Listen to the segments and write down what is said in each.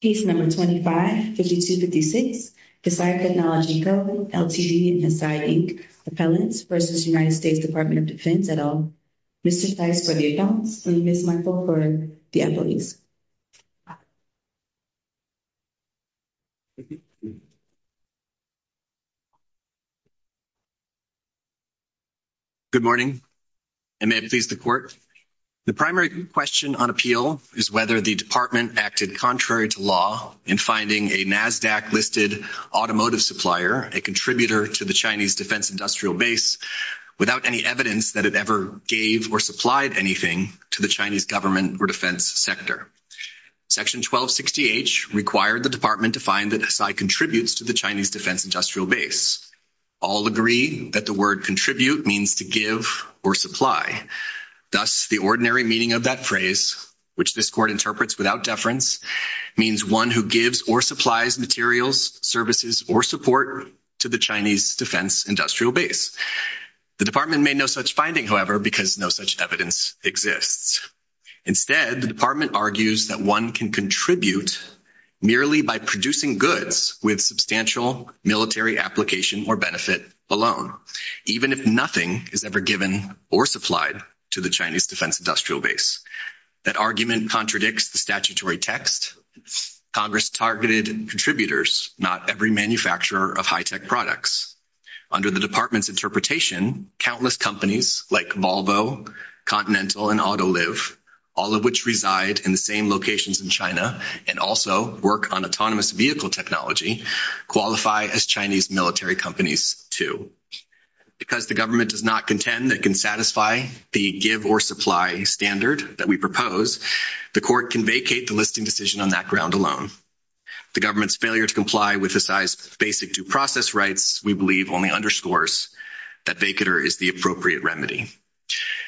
Case No. 25-5256, Hesai Technology Co., Ltd and Hesai, Inc. Appellants v. United States Department of Defense et al. Mr. Theis for the adults and Ms. Michael for the employees. Good morning, and may it please the Court. The primary question on appeal is whether the Department acted contrary to law in finding a NASDAQ-listed automotive supplier, a contributor to the Chinese defense industrial base, without any evidence that it ever gave or supplied anything to the Chinese government or defense sector. Section 1260H required the Department to find that Hesai contributes to the Chinese defense industrial base. All agree that the word contribute means to give or supply. Thus, the ordinary meaning of that phrase, which this Court interprets without deference, means one who gives or supplies materials, services, or support to the Chinese defense industrial base. The Department made no such finding, however, because no such evidence exists. Instead, the Department argues that one can contribute merely by producing goods with substantial military application or benefit alone, even if nothing is ever given or supplied to the Chinese defense industrial base. That argument contradicts the statutory text. Congress targeted contributors, not every manufacturer of high-tech products. Under the Department's interpretation, countless companies, like Volvo, Continental, and Autoliv, all of which reside in the same locations in China and also work on autonomous vehicle technology, qualify as Chinese military companies, too. Because the government does not contend that it can satisfy the give or supply standard that we propose, the Court can vacate the listing decision on that ground alone. The government's failure to comply with Hesai's basic due process rights, we believe, only underscores that vacater is the appropriate remedy.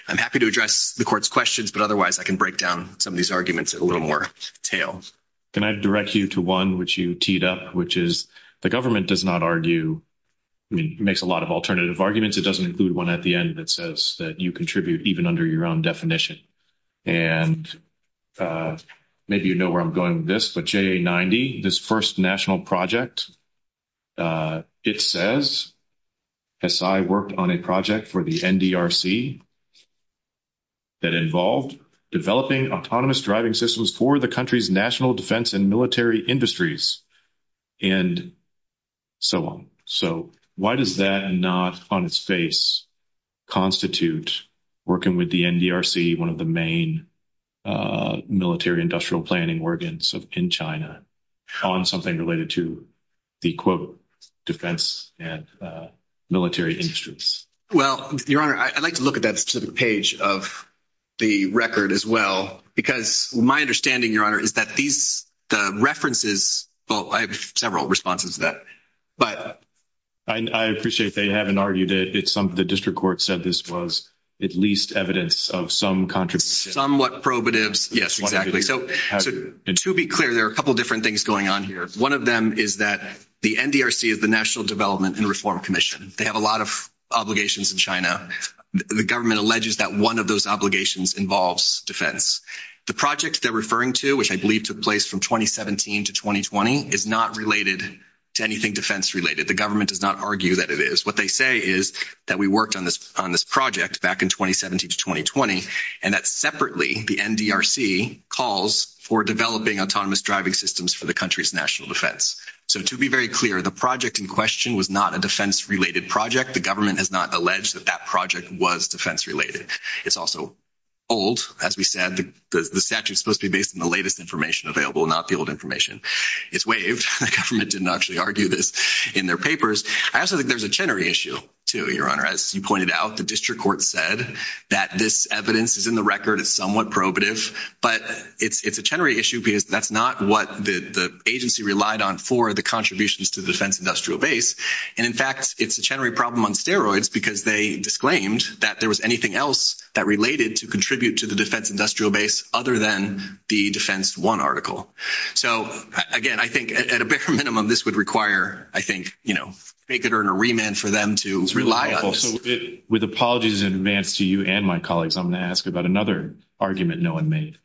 I'm happy to address the Court's questions, but otherwise I can break down some of these arguments at a little more detail. Can I direct you to one which you teed up, which is the government does not argue – I mean, makes a lot of alternative arguments. It doesn't include one at the end that says that you contribute even under your own definition. And maybe you know where I'm going with this, but JA-90, this first national project, it says Hesai worked on a project for the NDRC that involved developing autonomous driving systems for the country's national defense and military industries and so on. So why does that not on its face constitute working with the NDRC, one of the main military industrial planning organs in China, on something related to the, quote, defense and military industries? Well, Your Honor, I'd like to look at that specific page of the record as well, because my understanding, Your Honor, is that these – the references – well, I have several responses to that. I appreciate they haven't argued it. The district court said this was at least evidence of some contribution. Yes, exactly. So to be clear, there are a couple different things going on here. One of them is that the NDRC is the National Development and Reform Commission. They have a lot of obligations in China. The government alleges that one of those obligations involves defense. The project they're referring to, which I believe took place from 2017 to 2020, is not related to anything defense-related. The government does not argue that it is. What they say is that we worked on this project back in 2017 to 2020, and that separately, the NDRC calls for developing autonomous driving systems for the country's national defense. So to be very clear, the project in question was not a defense-related project. The government has not alleged that that project was defense-related. It's also old. As we said, the statute is supposed to be based on the latest information available, not the old information. It's waived. The government didn't actually argue this in their papers. I also think there's a Chenery issue, too, Your Honor. As you pointed out, the district court said that this evidence is in the record as somewhat probative, but it's a Chenery issue because that's not what the agency relied on for the contributions to the defense industrial base. In fact, it's a Chenery problem on steroids because they disclaimed that there was anything else that related to contribute to the defense industrial base other than the Defense I article. So, again, I think at a bare minimum, this would require, I think, they could earn a remand for them to rely on this. With apologies in advance to you and my colleagues, I'm going to ask about another argument no one made.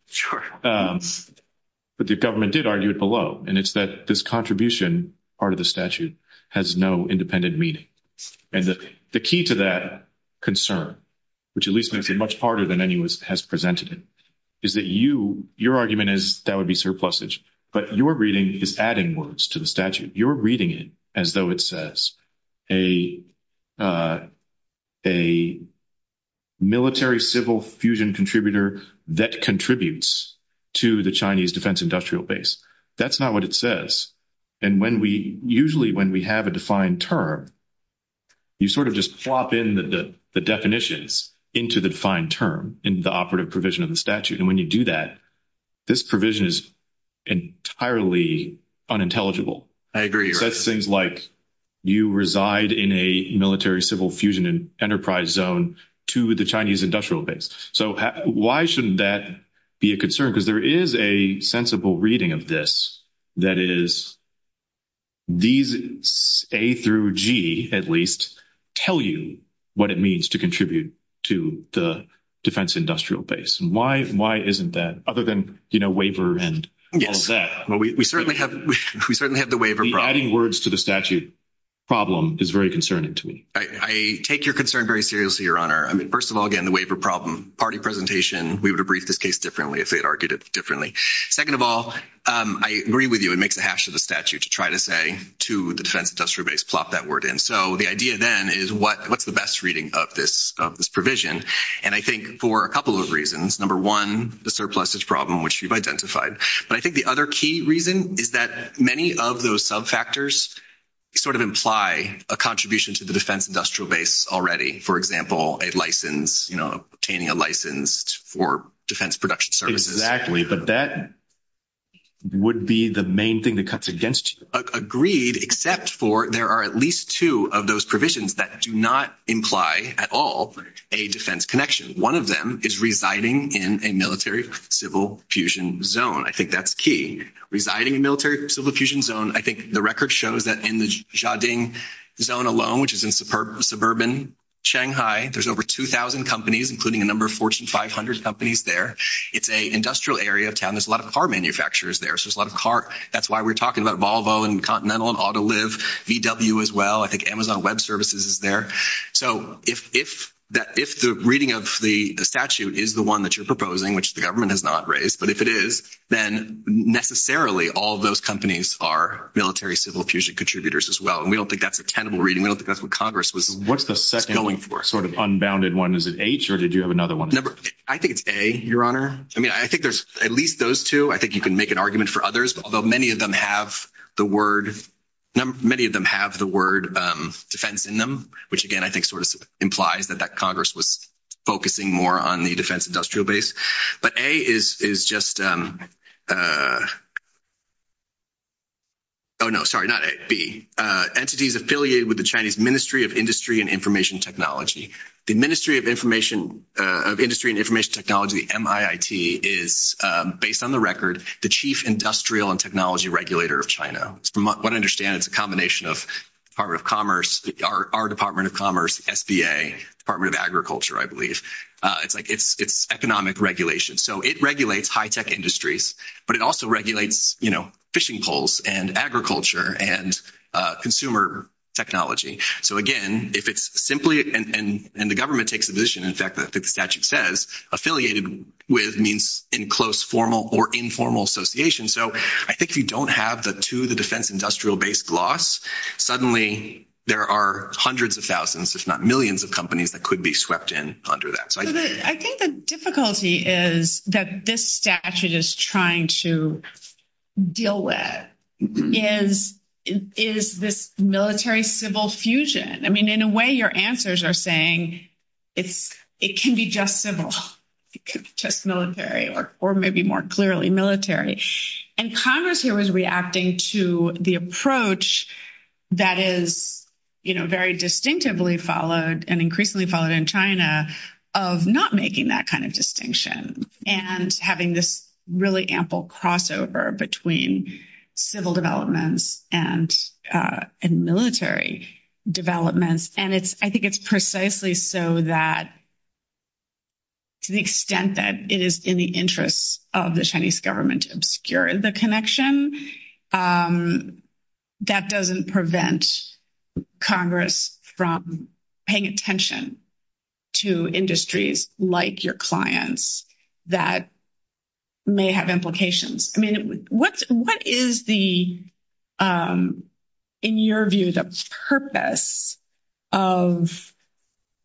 But the government did argue it below, and it's that this contribution part of the statute has no independent meaning. And the key to that concern, which at least makes it much harder than anyone has presented it, is that your argument is that would be surplusage. But your reading is adding words to the statute. You're reading it as though it says a military-civil fusion contributor that contributes to the Chinese defense industrial base. That's not what it says. And when we – usually when we have a defined term, you sort of just plop in the definitions into the defined term in the operative provision of the statute. And when you do that, this provision is entirely unintelligible. I agree. It says things like you reside in a military-civil fusion enterprise zone to the Chinese industrial base. So why shouldn't that be a concern? Because there is a sensible reading of this that is these A through G, at least, tell you what it means to contribute to the defense industrial base. Why isn't that? Other than waiver and all of that. Yes. We certainly have the waiver problem. Adding words to the statute problem is very concerning to me. I take your concern very seriously, Your Honor. I mean, first of all, again, the waiver problem. Party presentation, we would have briefed this case differently if they had argued it differently. Second of all, I agree with you. It makes a hash of the statute to try to say to the defense industrial base, plop that word in. So the idea then is what's the best reading of this provision? And I think for a couple of reasons. Number one, the surplusage problem, which you've identified. But I think the other key reason is that many of those sub factors sort of imply a contribution to the defense industrial base already. For example, obtaining a license for defense production services. Exactly. But that would be the main thing that cuts against you. Agreed, except for there are at least two of those provisions that do not imply at all a defense connection. One of them is residing in a military-civil fusion zone. I think that's key. Residing in a military-civil fusion zone, I think the record shows that in the Zhading zone alone, which is in suburban Shanghai, there's over 2,000 companies, including a number of Fortune 500 companies there. It's an industrial area of town. There's a lot of car manufacturers there, so there's a lot of car. That's why we're talking about Volvo and Continental and Autoliv, VW as well. I think Amazon Web Services is there. So if the reading of the statute is the one that you're proposing, which the government has not raised, but if it is, then necessarily all of those companies are military-civil fusion contributors as well. We don't think that's a tenable reading. We don't think that's what Congress was going for. What's the second sort of unbounded one? Is it H, or did you have another one? I think it's A, Your Honor. I think there's at least those two. I think you can make an argument for others, although many of them have the word defense in them, which, again, I think sort of implies that Congress was focusing more on the defense industrial base. But A is just – oh, no, sorry, not A, B. Entities affiliated with the Chinese Ministry of Industry and Information Technology. The Ministry of Industry and Information Technology, MIIT, is, based on the record, the chief industrial and technology regulator of China. From what I understand, it's a combination of Department of Commerce, our Department of Commerce, SBA, Department of Agriculture, I believe. It's economic regulation. So it regulates high-tech industries, but it also regulates fishing poles and agriculture and consumer technology. So, again, if it's simply – and the government takes the position, in fact, I think the statute says affiliated with means in close formal or informal association. So I think if you don't have the two, the defense industrial-based laws, suddenly there are hundreds of thousands, if not millions, of companies that could be swept in under that. I think the difficulty is that this statute is trying to deal with is this military-civil fusion. I mean, in a way, your answers are saying it can be just civil, just military, or maybe more clearly military. And Congress here was reacting to the approach that is very distinctively followed and increasingly followed in China of not making that kind of distinction and having this really ample crossover between civil developments and military developments. And I think it's precisely so that to the extent that it is in the interest of the Chinese government to obscure the connection, that doesn't prevent Congress from paying attention to industries like your clients that may have implications. I mean, what is, in your view, the purpose of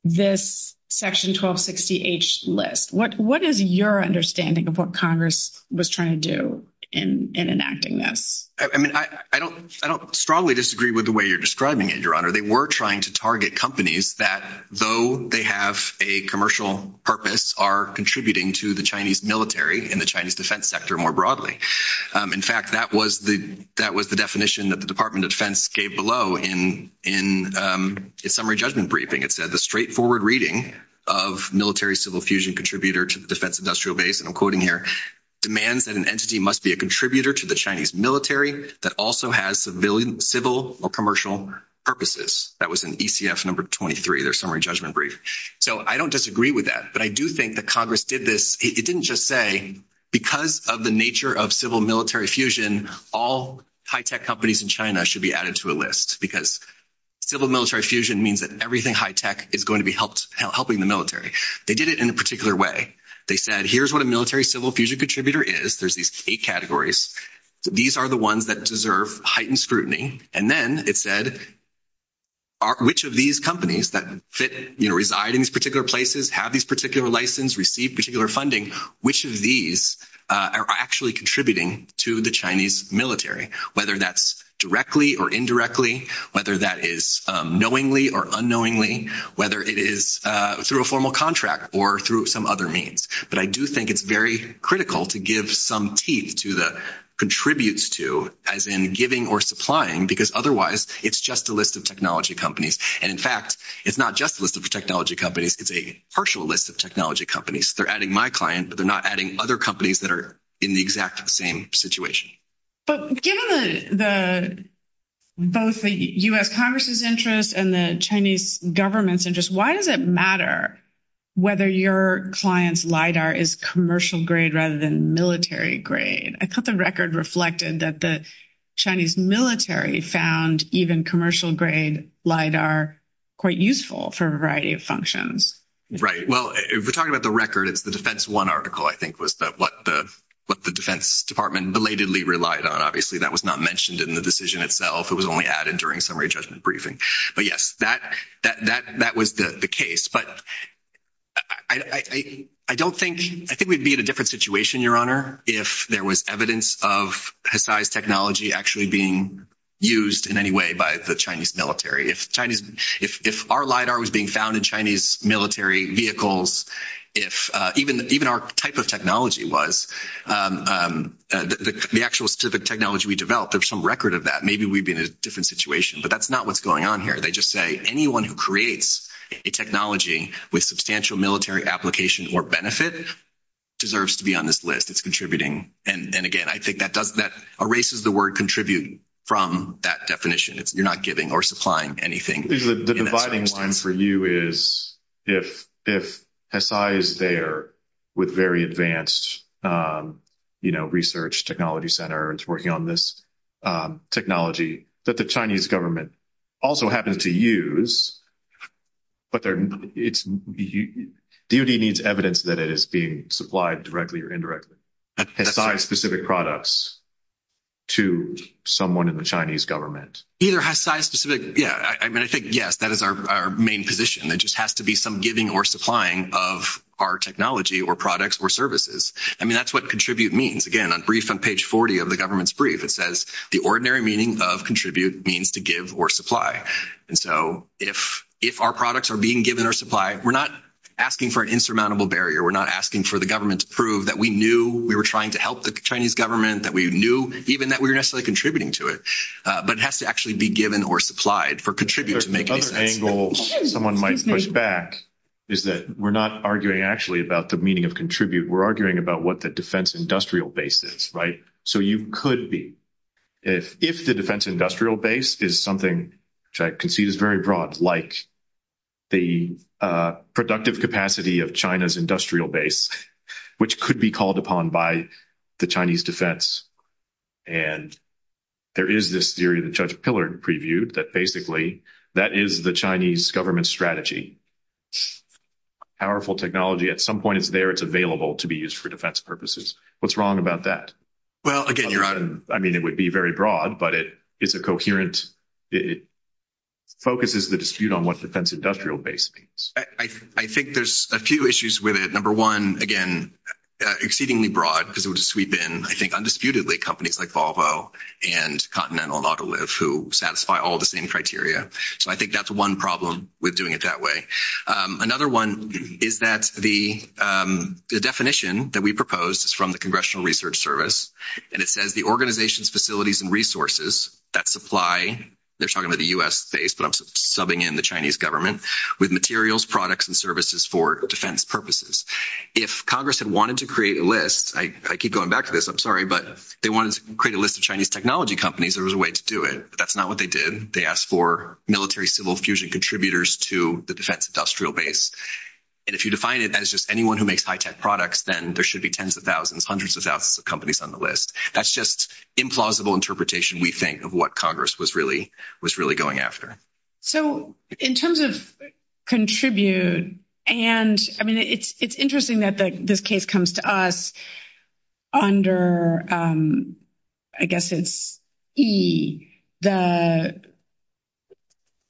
this Section 1260H list? What is your understanding of what Congress was trying to do in enacting this? I mean, I don't strongly disagree with the way you're describing it, Your Honor. They were trying to target companies that, though they have a commercial purpose, are contributing to the Chinese military and the Chinese defense sector more broadly. In fact, that was the definition that the Department of Defense gave below in its summary judgment briefing. It said, the straightforward reading of military-civil fusion contributor to the defense industrial base, and I'm quoting here, demands that an entity must be a contributor to the Chinese military that also has civilian, civil, or commercial purposes. That was in ECF number 23, their summary judgment brief. So I don't disagree with that, but I do think that Congress did this. It didn't just say, because of the nature of civil-military fusion, all high-tech companies in China should be added to a list, because civil-military fusion means that everything high-tech is going to be helping the military. They did it in a particular way. They said, here's what a military-civil fusion contributor is. There's these eight categories. These are the ones that deserve heightened scrutiny. And then it said, which of these companies that reside in these particular places, have these particular licenses, receive particular funding, which of these are actually contributing to the Chinese military, whether that's directly or indirectly, whether that is knowingly or unknowingly, whether it is through a formal contract or through some other means. But I do think it's very critical to give some teeth to the contributes to, as in giving or supplying, because otherwise it's just a list of technology companies. And, in fact, it's not just a list of technology companies. It's a partial list of technology companies. They're adding my client, but they're not adding other companies that are in the exact same situation. But given both the U.S. Congress's interest and the Chinese government's interest, why does it matter whether your client's LIDAR is commercial-grade rather than military-grade? I thought the record reflected that the Chinese military found even commercial-grade LIDAR quite useful for a variety of functions. Well, if we're talking about the record, it's the Defense One article, I think, was what the Defense Department belatedly relied on. Obviously, that was not mentioned in the decision itself. It was only added during summary judgment briefing. But, yes, that was the case. But I think we'd be in a different situation, Your Honor, if there was evidence of Hisai's technology actually being used in any way by the Chinese military. If our LIDAR was being found in Chinese military vehicles, if even our type of technology was the actual specific technology we developed, there's some record of that, maybe we'd be in a different situation. But that's not what's going on here. They just say anyone who creates a technology with substantial military application or benefit deserves to be on this list. It's contributing. And, again, I think that erases the word contribute from that definition. You're not giving or supplying anything. The dividing line for you is if Hisai is there with very advanced research technology center and is working on this technology that the Chinese government also happens to use, but DOD needs evidence that it is being supplied directly or indirectly, Hisai-specific products to someone in the Chinese government. Either Hisai-specific, yeah, I mean, I think, yes, that is our main position. There just has to be some giving or supplying of our technology or products or services. I mean, that's what contribute means. Again, on brief on page 40 of the government's brief, it says, the ordinary meaning of contribute means to give or supply. And so if our products are being given or supplied, we're not asking for an insurmountable barrier. We're not asking for the government to prove that we knew we were trying to help the Chinese government, that we knew even that we were necessarily contributing to it. But it has to actually be given or supplied for contribute to make any sense. The other angle someone might push back is that we're not arguing actually about the meaning of contribute. We're arguing about what the defense industrial base is, right? So you could be, if the defense industrial base is something which I concede is very broad, like the productive capacity of China's industrial base, which could be called upon by the Chinese defense. And there is this theory that Judge Pillard previewed that basically that is the Chinese government strategy. Powerful technology, at some point it's there, it's available to be used for defense purposes. What's wrong about that? Well, again, Your Honor. I mean, it would be very broad, but it is a coherent, it focuses the dispute on what defense industrial base means. I think there's a few issues with it. Number one, again, exceedingly broad because it would sweep in, I think, undisputedly companies like Volvo and Continental and Autoliv who satisfy all the same criteria. So I think that's one problem with doing it that way. Another one is that the definition that we proposed is from the Congressional Research Service, and it says the organization's facilities and resources that supply, they're talking about the U.S. base, but I'm subbing in the Chinese government, with materials, products, and services for defense purposes. If Congress had wanted to create a list, I keep going back to this, I'm sorry, but they wanted to create a list of Chinese technology companies, there was a way to do it. That's not what they did. They asked for military-civil fusion contributors to the defense industrial base. And if you define it as just anyone who makes high-tech products, then there should be tens of thousands, hundreds of thousands of companies on the list. That's just implausible interpretation, we think, of what Congress was really going after. So in terms of contribute, and, I mean, it's interesting that this case comes to us under, I guess it's E, the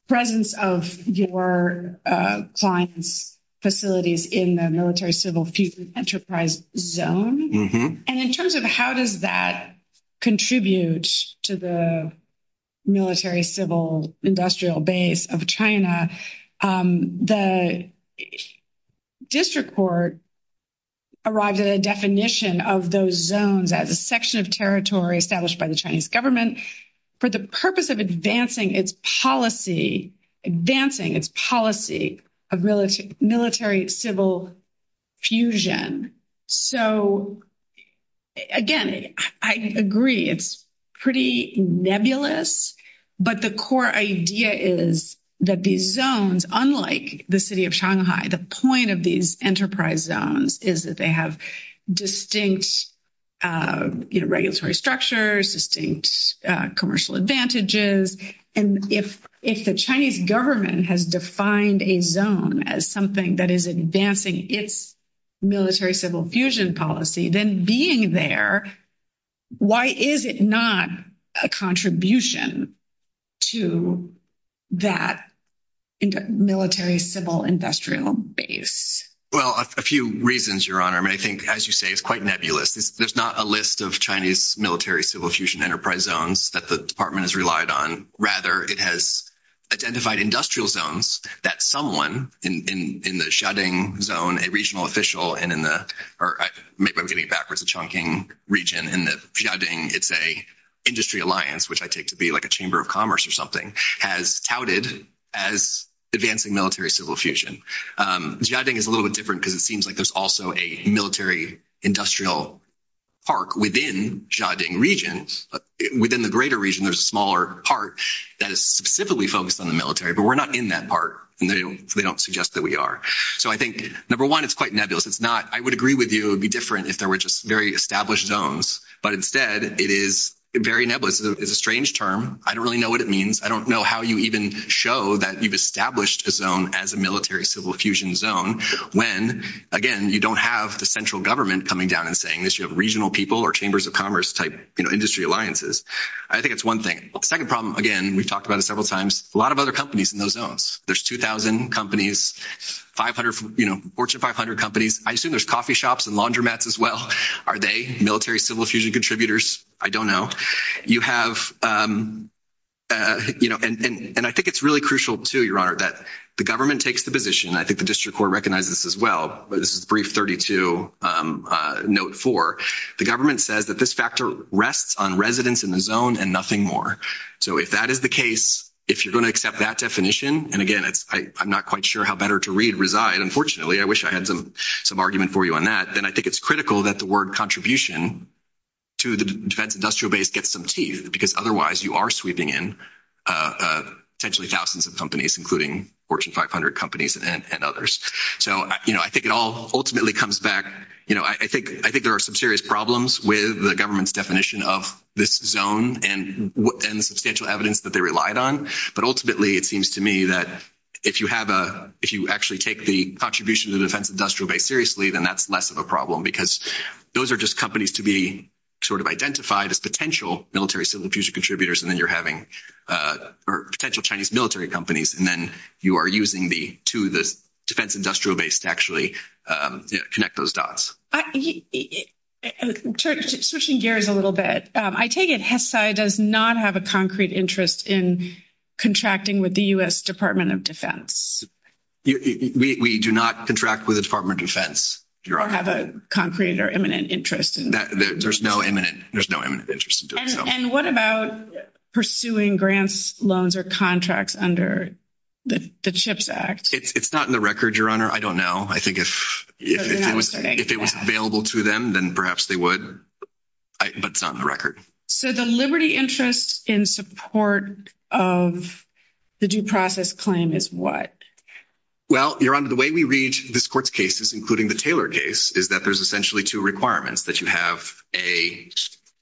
presence of your client's facilities in the military-civil fusion enterprise zone. And in terms of how does that contribute to the military-civil industrial base of China, the district court arrived at a definition of those zones as a section of territory established by the Chinese government for the purpose of advancing its policy of military-civil fusion. So, again, I agree, it's pretty nebulous. But the core idea is that these zones, unlike the city of Shanghai, the point of these enterprise zones is that they have distinct regulatory structures, distinct commercial advantages. And if the Chinese government has defined a zone as something that is advancing its military-civil fusion policy, then being there, why is it not a contribution to that military-civil industrial base? Well, a few reasons, Your Honor. I mean, I think, as you say, it's quite nebulous. There's not a list of Chinese military-civil fusion enterprise zones that the department has relied on. Rather, it has identified industrial zones that someone in the Xiaodong zone, a regional official, and in the – or maybe I'm getting backwards, the Chongqing region, in the Xiaodong, it's an industry alliance, which I take to be like a chamber of commerce or something, has touted as advancing military-civil fusion. Xiaodong is a little bit different because it seems like there's also a military-industrial park within Xiaodong region. Within the greater region, there's a smaller part that is specifically focused on the military, but we're not in that part, and they don't suggest that we are. So I think, number one, it's quite nebulous. It's not – I would agree with you it would be different if there were just very established zones, but instead it is very nebulous. It's a strange term. I don't really know what it means. I don't know how you even show that you've established a zone as a military-civil fusion zone when, again, you don't have the central government coming down and saying this. You have regional people or chambers of commerce-type industry alliances. I think it's one thing. The second problem, again, we've talked about it several times, a lot of other companies in those zones. There's 2,000 companies, 500 – Fortune 500 companies. I assume there's coffee shops and laundromats as well. Are they military-civil fusion contributors? I don't know. You have – and I think it's really crucial too, Your Honor, that the government takes the position, and I think the district court recognizes this as well, but this is brief 32, note 4. The government says that this factor rests on residents in the zone and nothing more. So if that is the case, if you're going to accept that definition – and, again, I'm not quite sure how better to read reside, unfortunately. I wish I had some argument for you on that. Then I think it's critical that the word contribution to the defense industrial base gets some teeth because otherwise you are sweeping in potentially thousands of companies, including Fortune 500 companies and others. So I think it all ultimately comes back – I think there are some serious problems with the government's definition of this zone and the substantial evidence that they relied on. But ultimately it seems to me that if you have a – if you actually take the contribution to the defense industrial base seriously, then that's less of a problem because those are just companies to be sort of identified as potential military civil fusion contributors and then you're having – or potential Chinese military companies and then you are using the – to the defense industrial base to actually connect those dots. Switching gears a little bit, I take it HESAI does not have a concrete interest in contracting with the U.S. Department of Defense. We do not contract with the Department of Defense, Your Honor. Or have a concrete or imminent interest in doing so. There's no imminent interest in doing so. And what about pursuing grants, loans, or contracts under the CHIPS Act? It's not in the record, Your Honor. I don't know. I think if it was available to them, then perhaps they would. But it's not in the record. So the liberty interest in support of the due process claim is what? Well, Your Honor, the way we read this court's cases, including the Taylor case, is that there's essentially two requirements, that you have a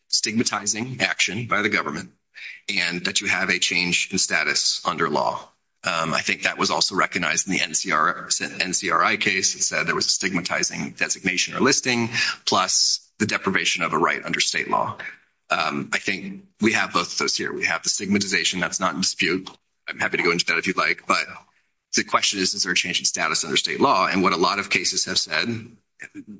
stigmatizing action by the government and that you have a change in status under law. I think that was also recognized in the NCRI case. It said there was a stigmatizing designation or listing plus the deprivation of a right under state law. I think we have both of those here. We have the stigmatization. That's not in dispute. I'm happy to go into that if you'd like. But the question is, is there a change in status under state law? And what a lot of cases have said,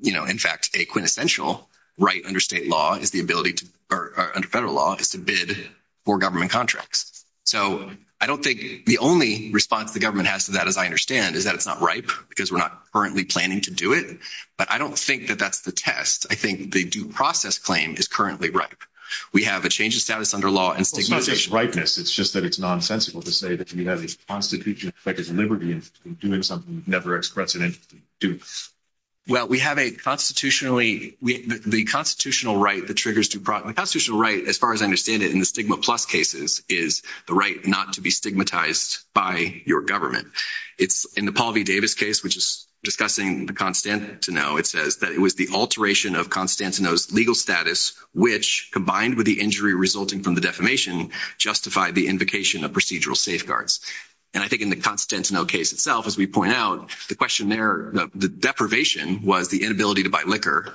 you know, in fact, a quintessential right under state law is the ability to – or under federal law is to bid for government contracts. So I don't think the only response the government has to that, as I understand, is that it's not ripe because we're not currently planning to do it. But I don't think that that's the test. I think the due process claim is currently ripe. We have a change in status under law and stigmatization. It's just that it's nonsensical to say that you have a constitutional effect of liberty in doing something you've never expressed an interest in doing. Well, we have a constitutionally – the constitutional right that triggers due process – the constitutional right, as far as I understand it in the stigma-plus cases, is the right not to be stigmatized by your government. In the Paul V. Davis case, which is discussing the Constantinople, it says that it was the alteration of Constantinople's legal status, which, combined with the injury resulting from the defamation, justified the invocation of procedural safeguards. And I think in the Constantinople case itself, as we point out, the question there – the deprivation was the inability to buy liquor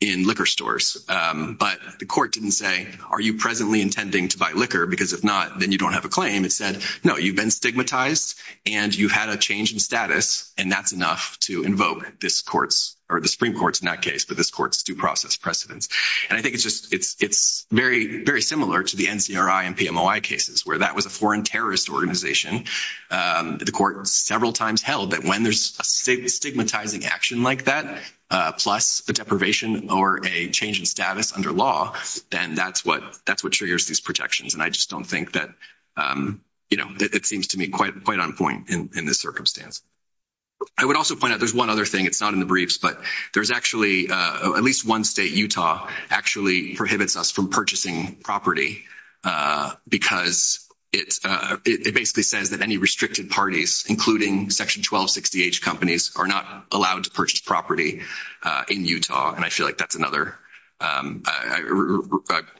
in liquor stores. But the court didn't say, are you presently intending to buy liquor? Because if not, then you don't have a claim. It said, no, you've been stigmatized, and you had a change in status, and that's enough to invoke this court's – or the Supreme Court's, in that case, but this court's due process precedence. And I think it's just – it's very similar to the NCRI and PMOI cases, where that was a foreign terrorist organization. The court several times held that when there's a stigmatizing action like that, plus the deprivation or a change in status under law, then that's what triggers these projections. And I just don't think that – you know, it seems to me quite on point in this circumstance. I would also point out there's one other thing. It's not in the briefs, but there's actually – at least one state, Utah, actually prohibits us from purchasing property because it basically says that any restricted parties, including Section 1260H companies, are not allowed to purchase property in Utah. And I feel like that's another – I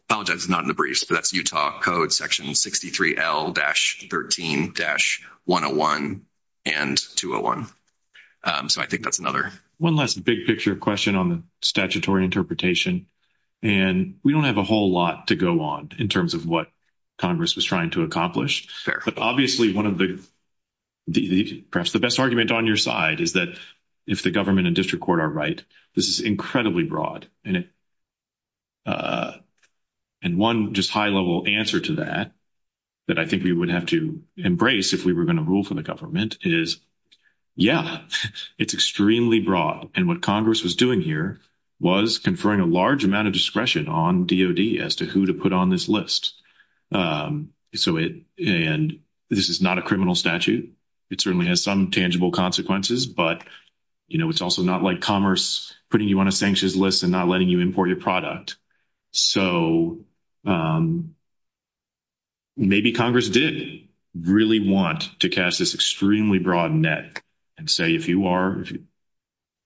apologize it's not in the briefs, but that's Utah Code Section 63L-13-101 and 201. So I think that's another. One last big picture question on the statutory interpretation, and we don't have a whole lot to go on in terms of what Congress was trying to accomplish. But obviously one of the – perhaps the best argument on your side is that if the government and district court are right, this is incredibly broad. And one just high-level answer to that that I think we would have to embrace if we were going to rule for the government is, yeah, it's extremely broad. And what Congress was doing here was conferring a large amount of discretion on DOD as to who to put on this list. And this is not a criminal statute. It certainly has some tangible consequences. But, you know, it's also not like commerce putting you on a sanctions list and not letting you import your product. So maybe Congress did really want to cast this extremely broad net and say if you are –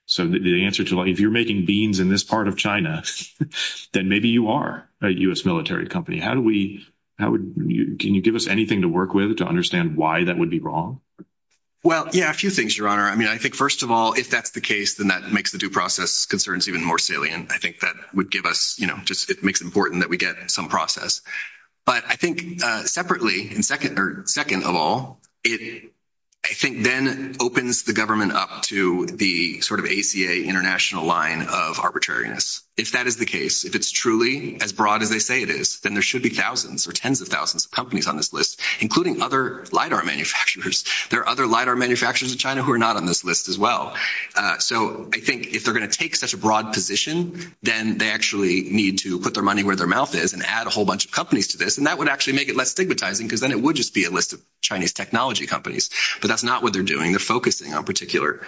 so the answer to that, if you're making beans in this part of China, then maybe you are a U.S. military company. How do we – can you give us anything to work with to understand why that would be wrong? Well, yeah, a few things, Your Honor. I mean, I think first of all, if that's the case, then that makes the due process concerns even more salient. I think that would give us – you know, it makes it important that we get some process. But I think separately, second of all, it I think then opens the government up to the sort of ACA international line of arbitrariness. If that is the case, if it's truly as broad as they say it is, then there should be thousands or tens of thousands of companies on this list, including other LIDAR manufacturers. There are other LIDAR manufacturers in China who are not on this list as well. So I think if they're going to take such a broad position, then they actually need to put their money where their mouth is and add a whole bunch of companies to this. And that would actually make it less stigmatizing because then it would just be a list of Chinese technology companies. But that's not what they're doing. They're focusing on particular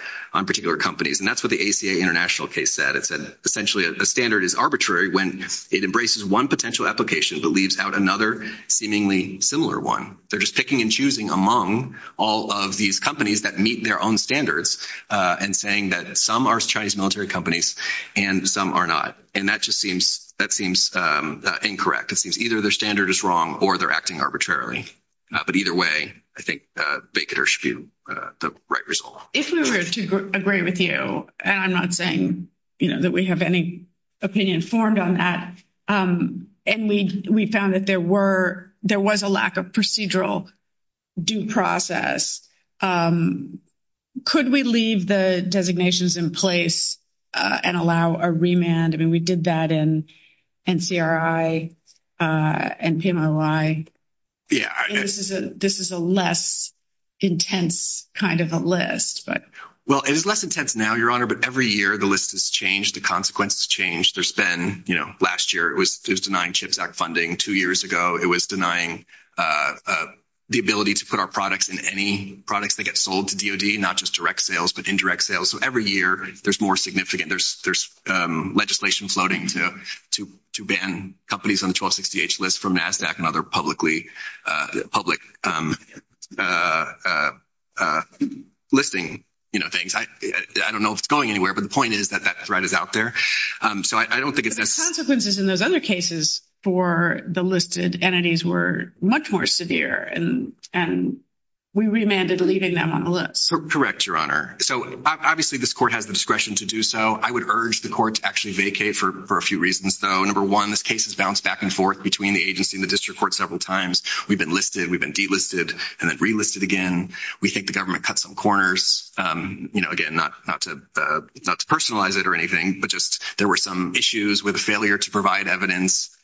companies. And that's what the ACA international case said. It said essentially a standard is arbitrary when it embraces one potential application but leaves out another seemingly similar one. They're just picking and choosing among all of these companies that meet their own standards and saying that some are Chinese military companies and some are not. And that just seems – that seems incorrect. It seems either their standard is wrong or they're acting arbitrarily. But either way, I think Baikonur should be the right result. If we were to agree with you, and I'm not saying, you know, that we have any opinion formed on that, and we found that there were – there was a lack of procedural due process, could we leave the designations in place and allow a remand? I mean, we did that in NCRI and PMOI. This is a less intense kind of a list. Well, it is less intense now, Your Honor, but every year the list has changed. The consequences have changed. There's been – you know, last year it was denying CHIPS Act funding. Two years ago it was denying the ability to put our products in any products that get sold to DOD, not just direct sales but indirect sales. So every year there's more significant – there's legislation floating to ban companies on the 1260H list from NASDAQ and other publicly – public listing, you know, things. I don't know if it's going anywhere, but the point is that that threat is out there. So I don't think it's – But the consequences in those other cases for the listed entities were much more severe, and we remanded leaving them on the list. Correct, Your Honor. So obviously this court has the discretion to do so. I would urge the court to actually vacate for a few reasons, though. Number one, this case has bounced back and forth between the agency and the district court several times. We've been listed, we've been delisted, and then relisted again. We think the government cut some corners, you know, again, not to personalize it or anything, but just there were some issues with the failure to provide evidence,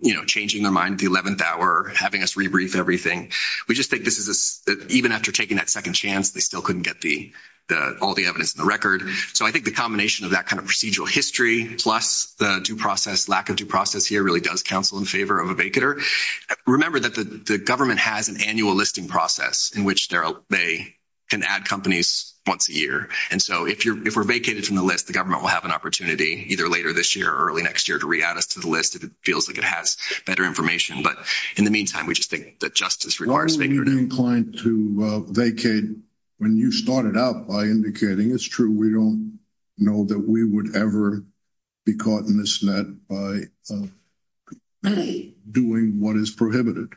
you know, changing their mind at the 11th hour, having us rebrief everything. We just think this is – even after taking that second chance, they still couldn't get all the evidence in the record. So I think the combination of that kind of procedural history plus the due process, lack of due process here really does counsel in favor of a vacater. Remember that the government has an annual listing process in which they can add companies once a year. And so if we're vacated from the list, the government will have an opportunity either later this year or early next year to re-add us to the list if it feels like it has better information. But in the meantime, we just think that justice requires vacating. We're not inclined to vacate when you started out by indicating it's true. We don't know that we would ever be caught in this net by doing what is prohibited,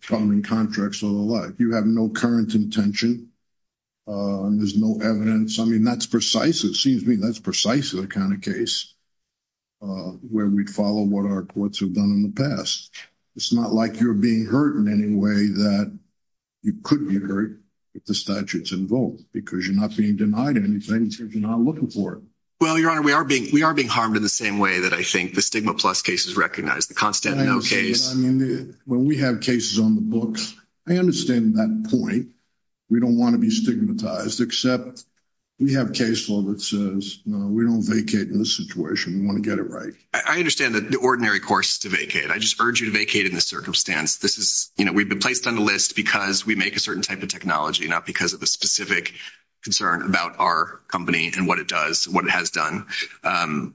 following contracts or the like. You have no current intention. There's no evidence. I mean, that's precise. It seems to me that's precise in the kind of case where we'd follow what our courts have done in the past. It's not like you're being hurt in any way that you could be hurt if the statute's in vogue because you're not being denied anything if you're not looking for it. Well, Your Honor, we are being harmed in the same way that I think the stigma plus case is recognized, the constant no case. I mean, when we have cases on the books, I understand that point. We don't want to be stigmatized except we have case law that says, no, we don't vacate in this situation. We want to get it right. I understand that the ordinary course is to vacate. I just urge you to vacate in this circumstance. We've been placed on the list because we make a certain type of technology, not because of a specific concern about our company and what it does, what it has done.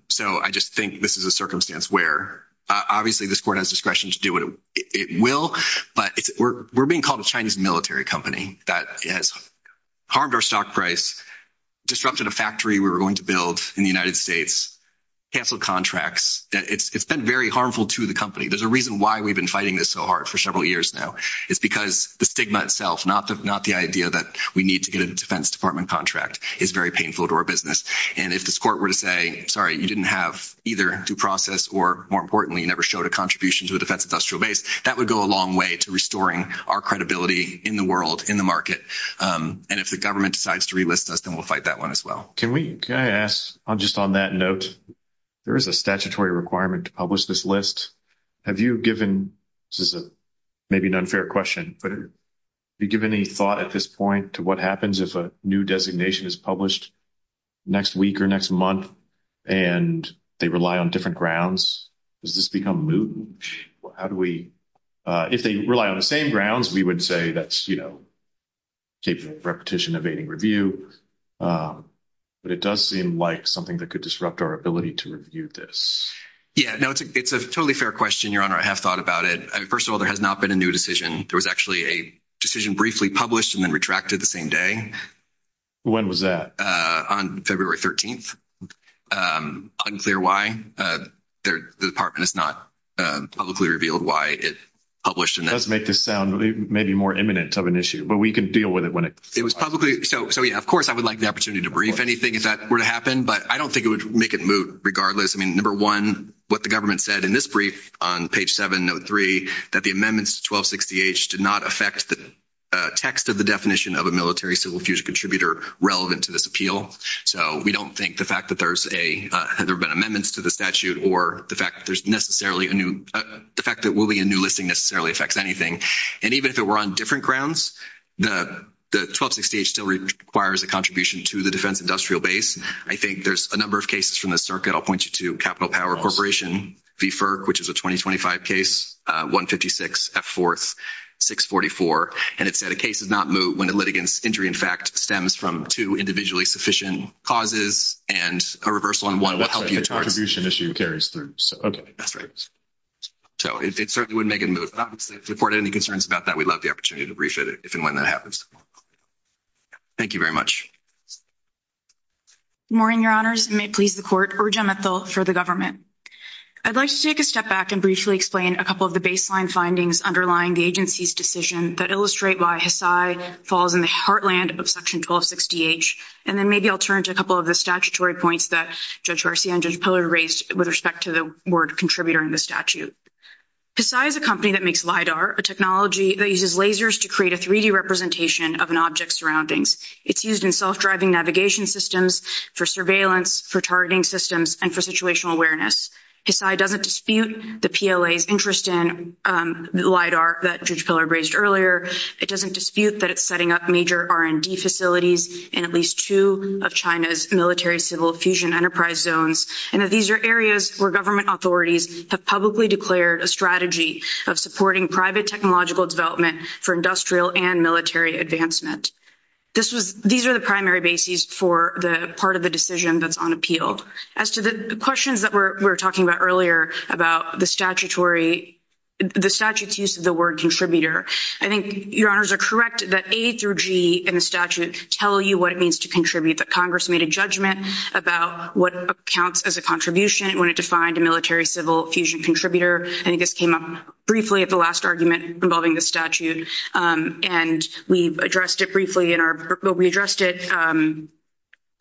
So I just think this is a circumstance where obviously this court has discretion to do what it will, but we're being called a Chinese military company that has harmed our stock price, disrupted a factory we were going to build in the United States, canceled contracts. It's been very harmful to the company. There's a reason why we've been fighting this so hard for several years now. It's because the stigma itself, not the idea that we need to get a Defense Department contract, is very painful to our business. And if this court were to say, sorry, you didn't have either due process or, more importantly, you never showed a contribution to the Defense Industrial Base, that would go a long way to restoring our credibility in the world, in the market. And if the government decides to relist us, then we'll fight that one as well. Can I ask, just on that note, there is a statutory requirement to publish this list. Have you given – this is maybe an unfair question, but have you given any thought at this point to what happens if a new designation is published next week or next month and they rely on different grounds? Does this become moot? How do we – if they rely on the same grounds, we would say that's, you know, capable of repetition evading review. But it does seem like something that could disrupt our ability to review this. Yeah, no, it's a totally fair question, Your Honor. I have thought about it. First of all, there has not been a new decision. There was actually a decision briefly published and then retracted the same day. When was that? On February 13th. Unclear why. The Department has not publicly revealed why it published. It does make this sound maybe more imminent of an issue, but we can deal with it when it – It was publicly – so, yeah, of course I would like the opportunity to brief anything if that were to happen, but I don't think it would make it moot regardless. I mean, number one, what the government said in this brief on page 7, note 3, that the amendments to 1260H did not affect the text of the definition of a military civil fusion contributor relevant to this appeal. So we don't think the fact that there's a – there have been amendments to the statute or the fact that there's necessarily a new – the fact that there will be a new listing necessarily affects anything. And even if it were on different grounds, the 1260H still requires a contribution to the defense industrial base. I think there's a number of cases from the circuit. I'll point you to Capital Power Corporation v. FERC, which is a 2025 case, 156F4-644, and it said a case does not moot when a litigant's injury, in fact, stems from two individually sufficient causes and a reversal on one will help you towards – an issue carries through. That's right. So it certainly wouldn't make it moot. But obviously, if the court had any concerns about that, we'd love the opportunity to brief it if and when that happens. Thank you very much. Good morning, Your Honors. It may please the Court. Urja Mathil for the government. I'd like to take a step back and briefly explain a couple of the baseline findings underlying the agency's decision that illustrate why HISAI falls in the heartland of Section 1260H. And then maybe I'll turn to a couple of the statutory points that Judge Garcia and Judge Pillar raised with respect to the word contributor in the statute. HISAI is a company that makes LIDAR, a technology that uses lasers to create a 3D representation of an object's surroundings. It's used in self-driving navigation systems, for surveillance, for targeting systems, and for situational awareness. HISAI doesn't dispute the PLA's interest in LIDAR that Judge Pillar raised earlier. It doesn't dispute that it's setting up major R&D facilities in at least two of China's military-civil fusion enterprise zones, and that these are areas where government authorities have publicly declared a strategy of supporting private technological development for industrial and military advancement. These are the primary bases for the part of the decision that's unappealed. As to the questions that we were talking about earlier about the statute's use of the word contributor, I think Your Honors are correct that A through G in the statute tell you what it means to contribute, that Congress made a judgment about what counts as a contribution when it defined a military-civil fusion contributor. I think this came up briefly at the last argument involving the statute, and we addressed it briefly in our—we addressed it—the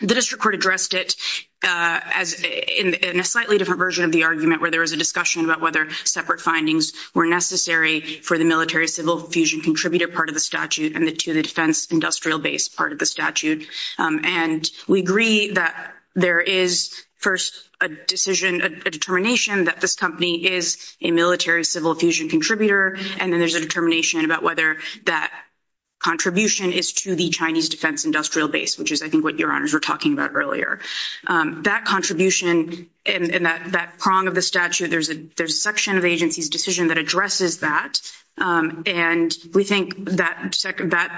district court addressed it in a slightly different version of the argument where there was a discussion about whether separate findings were necessary for the military-civil fusion contributor part of the statute and to the defense-industrial base part of the statute. And we agree that there is first a decision, a determination, that this company is a military-civil fusion contributor, and then there's a determination about whether that contribution is to the Chinese defense-industrial base, which is, I think, what Your Honors were talking about earlier. That contribution and that prong of the statute, there's a section of the agency's decision that addresses that, and we think that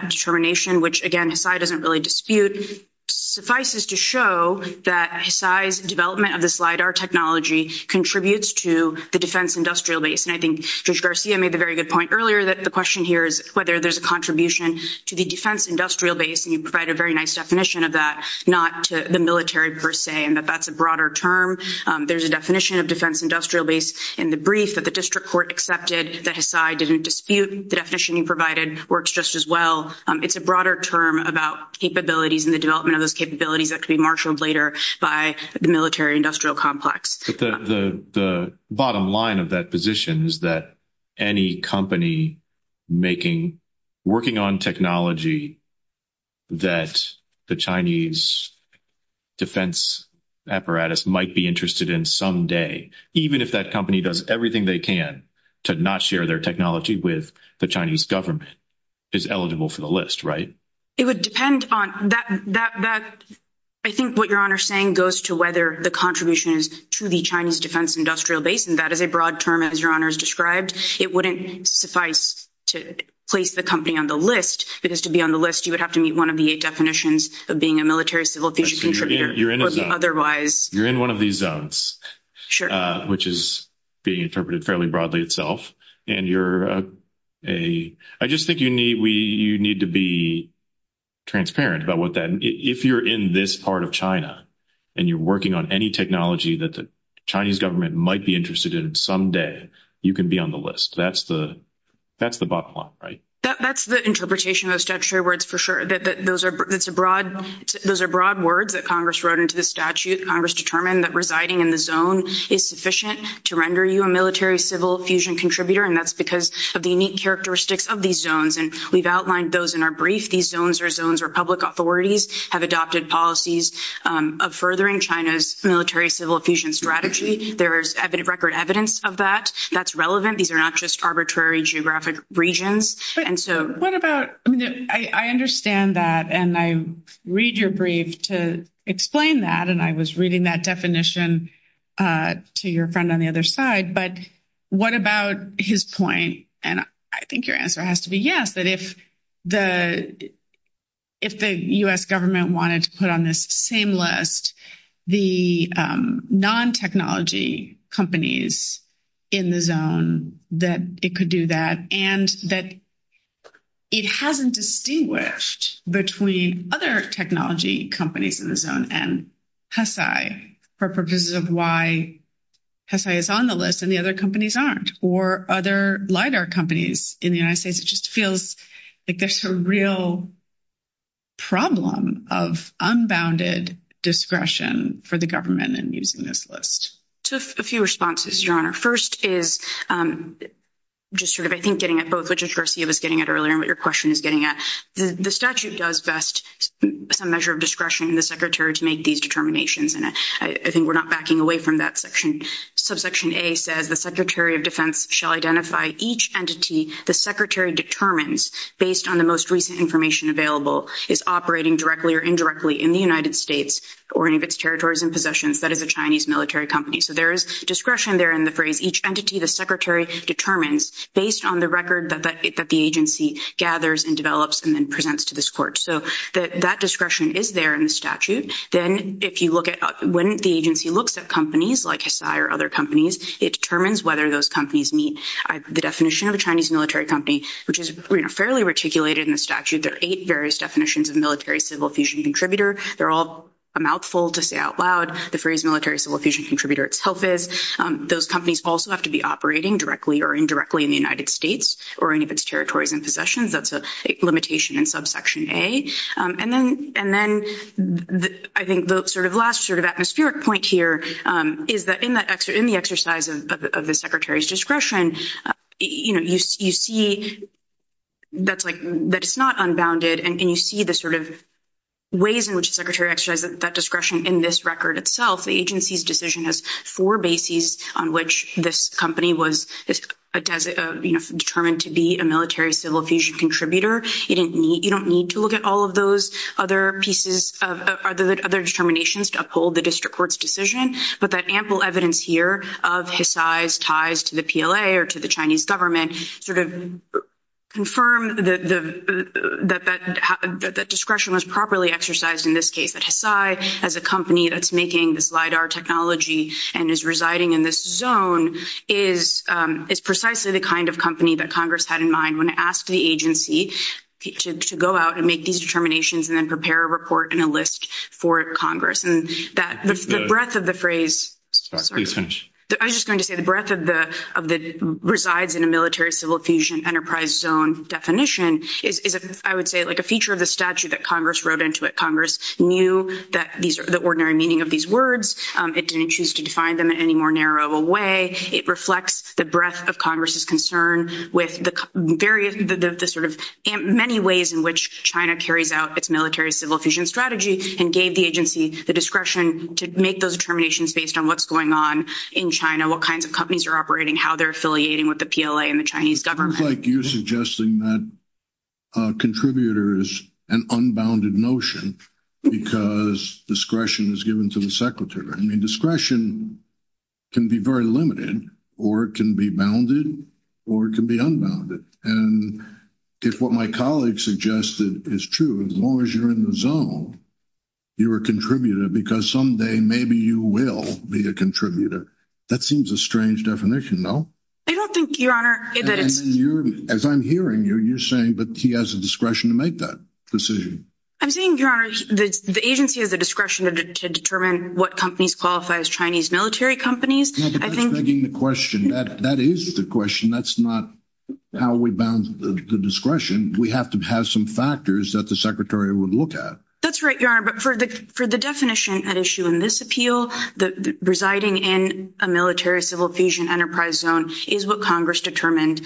determination, which, again, HISAI doesn't really dispute, suffices to show that HISAI's development of this LIDAR technology contributes to the defense-industrial base. And I think Judge Garcia made the very good point earlier that the question here is whether there's a contribution to the defense-industrial base, and you provide a very nice definition of that, not to the military per se, and that that's a broader term. There's a definition of defense-industrial base in the brief that the district court accepted that HISAI didn't dispute. The definition you provided works just as well. It's a broader term about capabilities and the development of those capabilities that could be marshaled later by the military-industrial complex. But the bottom line of that position is that any company working on technology that the Chinese defense apparatus might be interested in someday, even if that company does everything they can to not share their technology with the Chinese government, is eligible for the list, right? It would depend on that. I think what Your Honor is saying goes to whether the contribution is to the Chinese defense-industrial base, and that is a broad term, as Your Honor has described. It wouldn't suffice to place the company on the list, because to be on the list, you would have to meet one of the eight definitions of being a military-civil-future contributor. You're in one of these zones, which is being interpreted fairly broadly itself. I just think you need to be transparent about that. If you're in this part of China and you're working on any technology that the Chinese government might be interested in someday, you can be on the list. That's the bottom line, right? That's the interpretation of the statutory words for sure. Those are broad words that Congress wrote into the statute. Congress determined that residing in the zone is sufficient to render you a military-civil-fusion contributor, and that's because of the unique characteristics of these zones. We've outlined those in our brief. These zones are zones where public authorities have adopted policies of furthering China's military-civil-fusion strategy. There is record evidence of that. That's relevant. These are not just arbitrary geographic regions. I understand that, and I read your brief to explain that, and I was reading that definition to your friend on the other side. But what about his point, and I think your answer has to be yes, that if the U.S. government wanted to put on this same list the non-technology companies in the zone, that it could do that, and that it hasn't distinguished between other technology companies in the zone and HSI for purposes of why HSI is on the list and the other companies aren't, or other LIDAR companies in the United States. It just feels like there's a real problem of unbounded discretion for the government in using this list. A few responses, Your Honor. First is just sort of I think getting at both what Justice Garcia was getting at earlier and what your question is getting at. The statute does vest some measure of discretion in the Secretary to make these determinations, and I think we're not backing away from that. Subsection A says the Secretary of Defense shall identify each entity the Secretary determines based on the most recent information available is operating directly or indirectly in the United States or any of its territories and possessions, that is a Chinese military company. So there is discretion there in the phrase. Each entity the Secretary determines based on the record that the agency gathers and develops and then presents to this court. So that discretion is there in the statute. Then if you look at when the agency looks at companies like HSI or other companies, it determines whether those companies meet the definition of a Chinese military company, which is fairly articulated in the statute. There are eight various definitions of military-civil fusion contributor. They're all a mouthful to say out loud. The phrase military-civil fusion contributor itself is. Those companies also have to be operating directly or indirectly in the United States or any of its territories and possessions. That's a limitation in subsection A. And then I think the sort of last sort of atmospheric point here is that in the exercise of the Secretary's discretion, you see that it's not unbounded, and you see the sort of ways in which the Secretary exercises that discretion in this record itself. The agency's decision has four bases on which this company was determined to be a military-civil fusion contributor. You don't need to look at all of those other pieces of other determinations to uphold the district court's decision. But that ample evidence here of HSI's ties to the PLA or to the Chinese government sort of confirmed that that discretion was properly exercised in this case, that HSI as a company that's making this LIDAR technology and is residing in this zone is precisely the kind of company that Congress had in mind when it asked the agency to go out and make these determinations and then prepare a report and a list for Congress. And the breadth of the phrase resides in a military-civil fusion enterprise zone definition is, I would say, like a feature of the statute that Congress wrote into it. Congress knew the ordinary meaning of these words. It didn't choose to define them in any more narrow way. It reflects the breadth of Congress's concern with the sort of many ways in which China carries out its military-civil fusion strategy and gave the agency the discretion to make those determinations based on what's going on in China, what kinds of companies are operating, how they're affiliating with the PLA and the Chinese government. It looks like you're suggesting that a contributor is an unbounded notion because discretion is given to the secretary. I mean, discretion can be very limited or it can be bounded or it can be unbounded. And if what my colleague suggested is true, as long as you're in the zone, you're a contributor because someday maybe you will be a contributor. That seems a strange definition, no? I don't think, Your Honor, that it's— As I'm hearing you, you're saying that he has the discretion to make that decision. I'm saying, Your Honor, the agency has the discretion to determine what companies qualify as Chinese military companies. That's not the question. That is the question. That's not how we bound the discretion. We have to have some factors that the secretary would look at. That's right, Your Honor, but for the definition at issue in this appeal, residing in a military-civil fusion enterprise zone is what Congress determined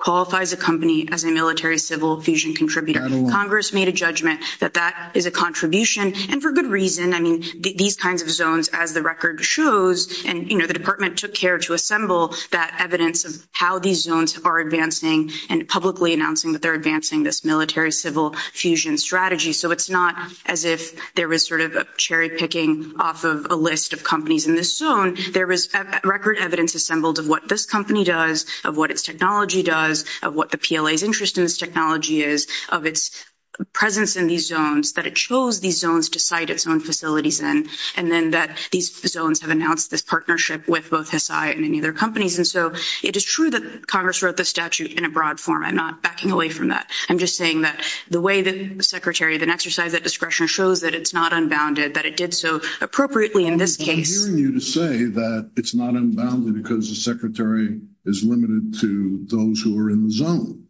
qualifies a company as a military-civil fusion contributor. Congress made a judgment that that is a contribution, and for good reason. I mean, these kinds of zones, as the record shows, and, you know, the department took care to assemble that evidence of how these zones are advancing and publicly announcing that they're advancing this military-civil fusion strategy. So it's not as if there was sort of a cherry-picking off of a list of companies in this zone. There was record evidence assembled of what this company does, of what its technology does, of what the PLA's interest in this technology is, of its presence in these zones, that it chose these zones to site its own facilities in, and then that these zones have announced this partnership with both Hisai and any other companies. And so it is true that Congress wrote the statute in a broad form. I'm not backing away from that. I'm just saying that the way that the secretary then exercised that discretion shows that it's not unbounded, that it did so appropriately in this case. I'm hearing you to say that it's not unbounded because the secretary is limited to those who are in the zone,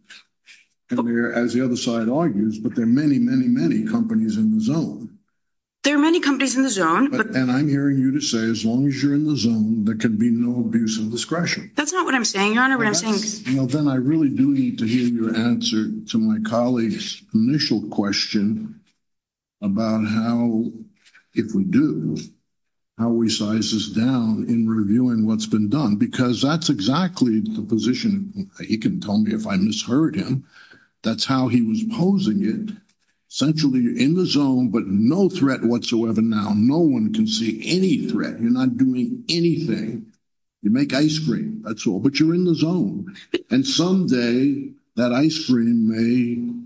as the other side argues, but there are many, many, many companies in the zone. There are many companies in the zone. And I'm hearing you to say as long as you're in the zone, there can be no abuse of discretion. That's not what I'm saying, Your Honor. Then I really do need to hear your answer to my colleague's initial question about how, if we do, how we size this down in reviewing what's been done, because that's exactly the position. He can tell me if I misheard him. That's how he was posing it. Essentially, you're in the zone, but no threat whatsoever now. No one can see any threat. You're not doing anything. You make ice cream. That's all. But you're in the zone. And someday, that ice cream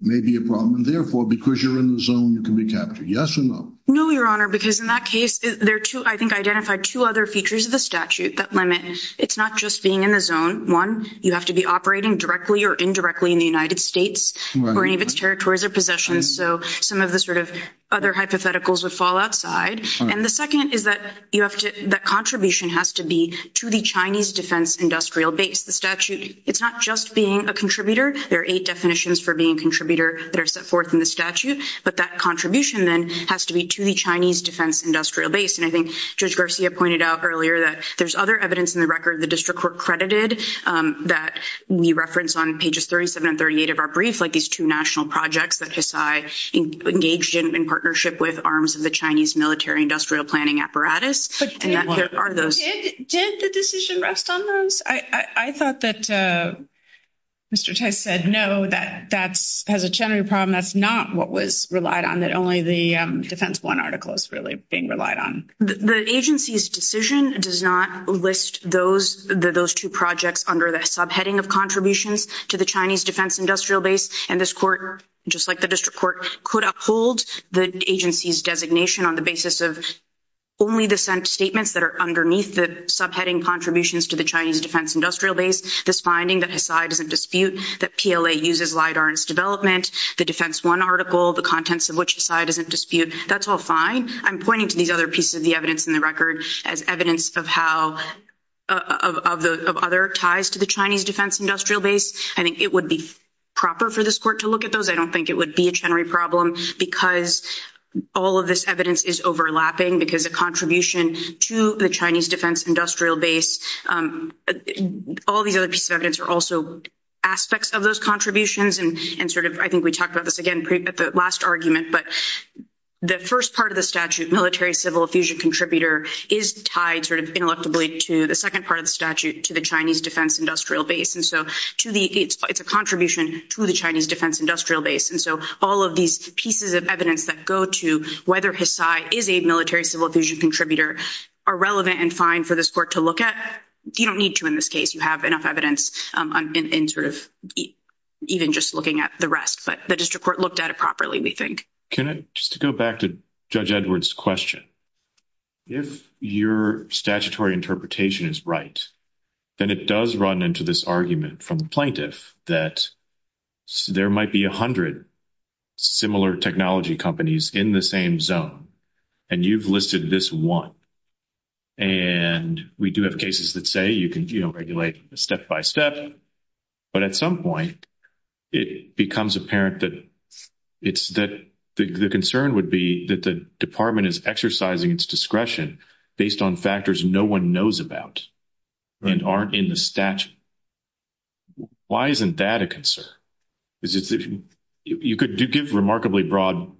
may be a problem. And therefore, because you're in the zone, you can be captured. Yes or no? No, Your Honor, because in that case, I think I identified two other features of the statute that limit. It's not just being in the zone. One, you have to be operating directly or indirectly in the United States or any of its territories or possessions. So some of the sort of other hypotheticals would fall outside. And the second is that that contribution has to be to the Chinese defense industrial base. The statute, it's not just being a contributor. There are eight definitions for being a contributor that are set forth in the statute. But that contribution, then, has to be to the Chinese defense industrial base. And I think Judge Garcia pointed out earlier that there's other evidence in the record the district court credited that we reference on pages 37 and 38 of our brief, like these two national projects that Hisai engaged in in partnership with arms of the Chinese military industrial planning apparatus. Did the decision rest on those? I thought that Mr. Tice said no, that has a general problem. That's not what was relied on, that only the Defense One article is really being relied on. The agency's decision does not list those two projects under the subheading of contributions to the Chinese defense industrial base. And this court, just like the district court, could uphold the agency's designation on the basis of only the sent statements that are underneath the subheading contributions to the Chinese defense industrial base. This finding that Hisai doesn't dispute, that PLA uses LIDAR in its development, the Defense One article, the contents of which Hisai doesn't dispute, that's all fine. I'm pointing to these other pieces of the evidence in the record as evidence of how, of other ties to the Chinese defense industrial base. I think it would be proper for this court to look at those. I don't think it would be a general problem because all of this evidence is overlapping because a contribution to the Chinese defense industrial base. All these other pieces of evidence are also aspects of those contributions and sort of, I think we talked about this again at the last argument. But the first part of the statute, military civil effusion contributor, is tied sort of ineluctably to the second part of the statute to the Chinese defense industrial base. And so to the, it's a contribution to the Chinese defense industrial base. And so all of these pieces of evidence that go to whether Hisai is a military civil effusion contributor are relevant and fine for this court to look at. You don't need to in this case. You have enough evidence in sort of even just looking at the rest. But the district court looked at it properly, we think. Can I just go back to Judge Edwards' question? If your statutory interpretation is right, then it does run into this argument from the plaintiff that there might be 100 similar technology companies in the same zone. And you've listed this one. And we do have cases that say you can regulate step by step. But at some point, it becomes apparent that it's that the concern would be that the department is exercising its discretion based on factors no one knows about and aren't in the statute. Why isn't that a concern? You could give remarkably broad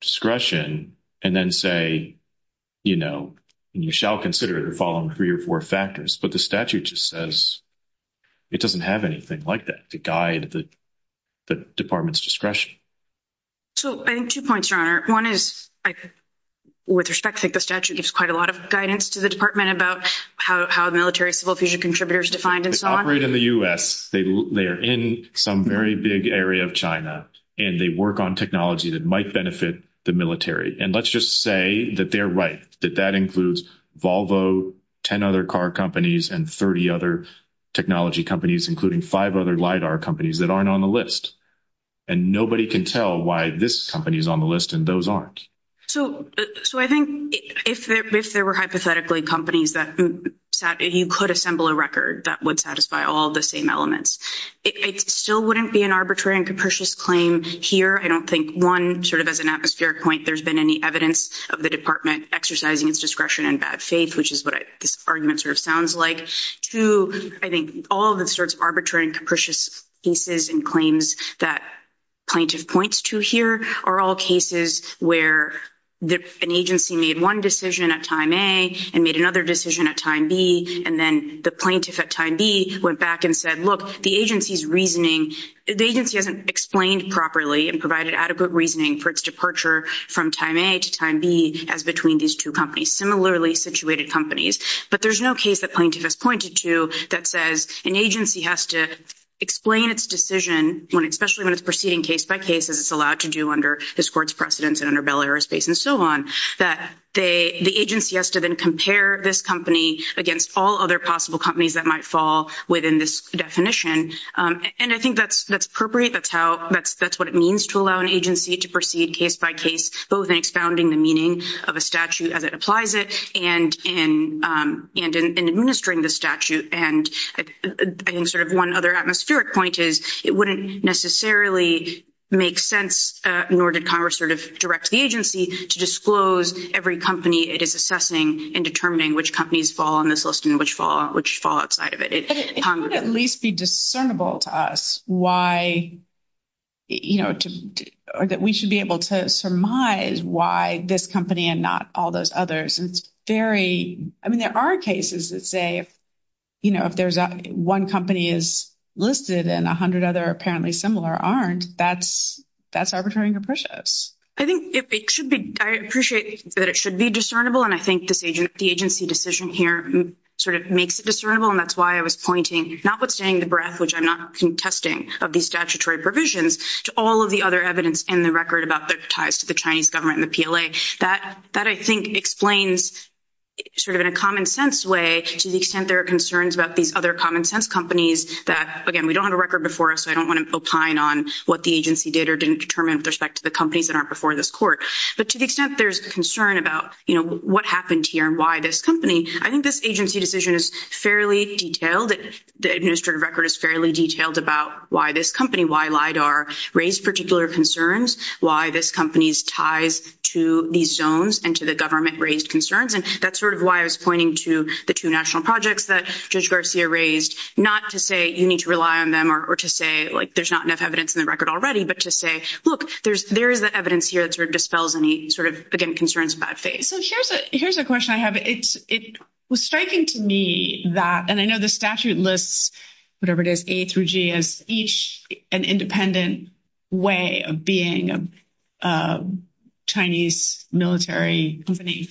discretion and then say, you know, you shall consider the following three or four factors. But the statute just says it doesn't have anything like that to guide the department's discretion. So I think two points, Your Honor. One is I, with respect, think the statute gives quite a lot of guidance to the department about how a military civil effusion contributor is defined and so on. So if they operate in the U.S., they are in some very big area of China, and they work on technology that might benefit the military. And let's just say that they're right, that that includes Volvo, 10 other car companies, and 30 other technology companies, including five other LIDAR companies that aren't on the list. And nobody can tell why this company is on the list and those aren't. So I think if there were hypothetically companies that you could assemble a record that would satisfy all the same elements, it still wouldn't be an arbitrary and capricious claim here. I don't think, one, sort of as an atmospheric point, there's been any evidence of the department exercising its discretion in bad faith, which is what this argument sort of sounds like. Two, I think all the sorts of arbitrary and capricious cases and claims that plaintiff points to here are all cases where an agency made one decision at time A and made another decision at time B, and then the plaintiff at time B went back and said, look, the agency's reasoning, the agency hasn't explained properly and provided adequate reasoning for its departure from time A to time B as between these two companies. But there's no case that plaintiff has pointed to that says an agency has to explain its decision, especially when it's proceeding case by case, as it's allowed to do under this court's precedence and under Bell Aerospace and so on, that the agency has to then compare this company against all other possible companies that might fall within this definition. And I think that's appropriate. That's what it means to allow an agency to proceed case by case, both in expounding the meaning of a statute as it applies it and in administering the statute. And I think sort of one other atmospheric point is it wouldn't necessarily make sense, nor did Congress sort of direct the agency to disclose every company it is assessing and determining which companies fall on this list and which fall outside of it. It would at least be discernible to us why, you know, or that we should be able to surmise why this company and not all those others. And it's very, I mean, there are cases that say, you know, if there's one company is listed and 100 other apparently similar aren't, that's arbitrary and capricious. I think it should be, I appreciate that it should be discernible. And I think the agency decision here sort of makes it discernible. And that's why I was pointing, notwithstanding the breadth, which I'm not contesting of these statutory provisions, to all of the other evidence in the record about the ties to the Chinese government and the PLA. That, I think, explains sort of in a common sense way to the extent there are concerns about these other common sense companies that, again, we don't have a record before us. I don't want to opine on what the agency did or didn't determine with respect to the companies that aren't before this court. But to the extent there's concern about, you know, what happened here and why this company, I think this agency decision is fairly detailed. The administrative record is fairly detailed about why this company, why LIDAR raised particular concerns, why this company's ties to these zones and to the government raised concerns. And that's sort of why I was pointing to the two national projects that Judge Garcia raised, not to say you need to rely on them or to say, like, there's not enough evidence in the record already, but to say, look, there is the evidence here that sort of dispels any sort of, again, concerns about faith. So here's a question I have. It was striking to me that, and I know the statute lists whatever it is, A through G, as each an independent way of being a Chinese military company.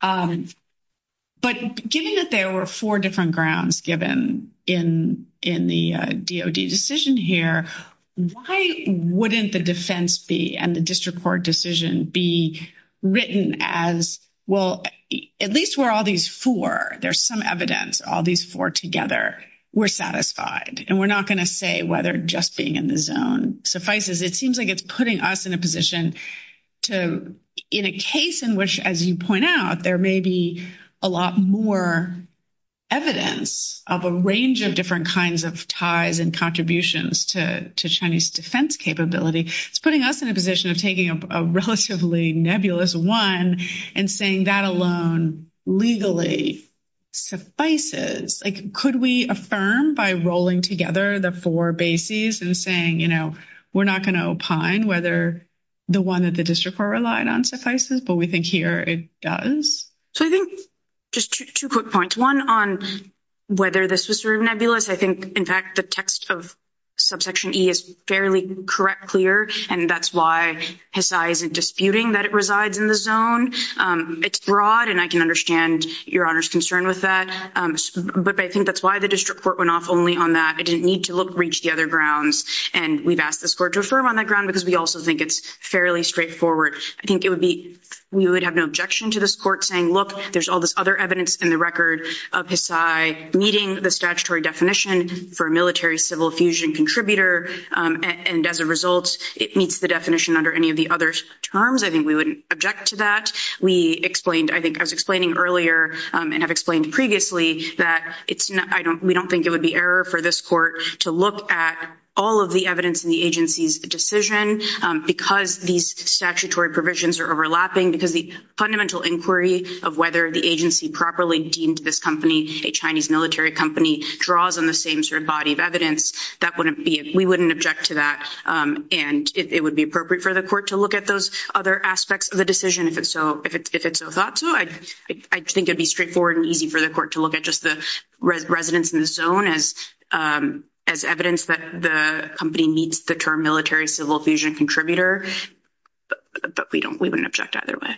But given that there were four different grounds given in the DOD decision here, why wouldn't the defense be and the district court decision be written as, well, at least where all these four, there's some evidence, all these four together were satisfied and we're not going to say whether just being in the zone suffices. It seems like it's putting us in a position to, in a case in which, as you point out, there may be a lot more evidence of a range of different kinds of ties and contributions to Chinese defense capability. It's putting us in a position of taking a relatively nebulous one and saying that alone legally suffices. Could we affirm by rolling together the four bases and saying, you know, we're not going to opine whether the one that the district court relied on suffices, but we think here it does? So I think just two quick points, one on whether this was sort of nebulous. I think, in fact, the text of subsection E is fairly correct, clear, and that's why HSI isn't disputing that it resides in the zone. It's broad and I can understand Your Honor's concern with that. But I think that's why the district court went off only on that. It didn't need to reach the other grounds. And we've asked this court to affirm on that ground because we also think it's fairly straightforward. I think it would be, we would have no objection to this court saying, look, there's all this other evidence in the record of HSI meeting the statutory definition for a military civil fusion contributor. And as a result, it meets the definition under any of the other terms. I think we wouldn't object to that. We explained, I think I was explaining earlier and have explained previously that it's not, we don't think it would be error for this court to look at all of the evidence in the agency's decision because these statutory provisions are overlapping, because the fundamental inquiry of whether the agency properly deemed this company a Chinese military company draws on the same sort of body of evidence. That wouldn't be, we wouldn't object to that. And it would be appropriate for the court to look at those other aspects of the decision if it's so thought to. I think it would be straightforward and easy for the court to look at just the residents in the zone as evidence that the company meets the term military civil fusion contributor. But we don't, we wouldn't object either way.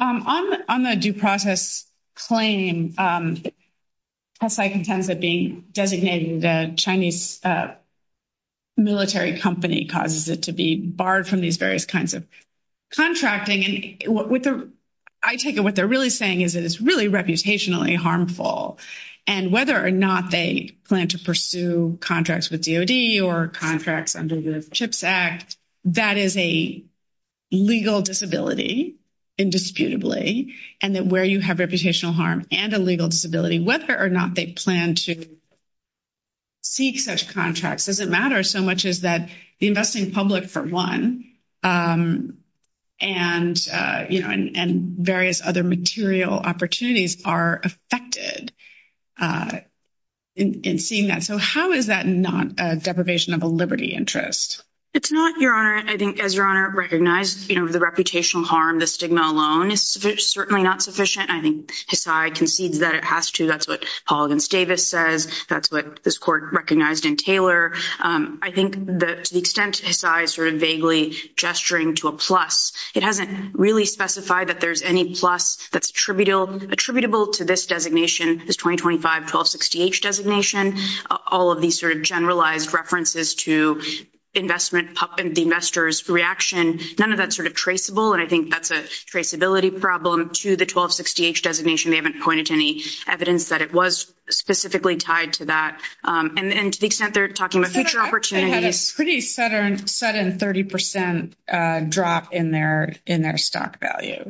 On the due process claim, HSI contends that being designated a Chinese military company causes it to be barred from these various kinds of contracting. And I take it what they're really saying is it is really reputationally harmful. And whether or not they plan to pursue contracts with DOD or contracts under the CHIPS Act, that is a legal disability, indisputably. And that where you have reputational harm and a legal disability, whether or not they plan to seek such contracts, doesn't matter so much as that the investing public, for one, and various other material opportunities are affected in seeing that. So how is that not a deprivation of a liberty interest? It's not, Your Honor. I think, as Your Honor recognized, the reputational harm, the stigma alone is certainly not sufficient. I think HSI concedes that it has to. That's what Paul against Davis says. That's what this court recognized in Taylor. I think to the extent HSI is sort of vaguely gesturing to a plus, it hasn't really specified that there's any plus that's attributable to this designation, this 2025 1260H designation. All of these sort of generalized references to investment and the investor's reaction, none of that's sort of traceable. And I think that's a traceability problem to the 1260H designation. They haven't pointed to any evidence that it was specifically tied to that. And to the extent they're talking about future opportunities. They had a pretty sudden 30% drop in their stock value.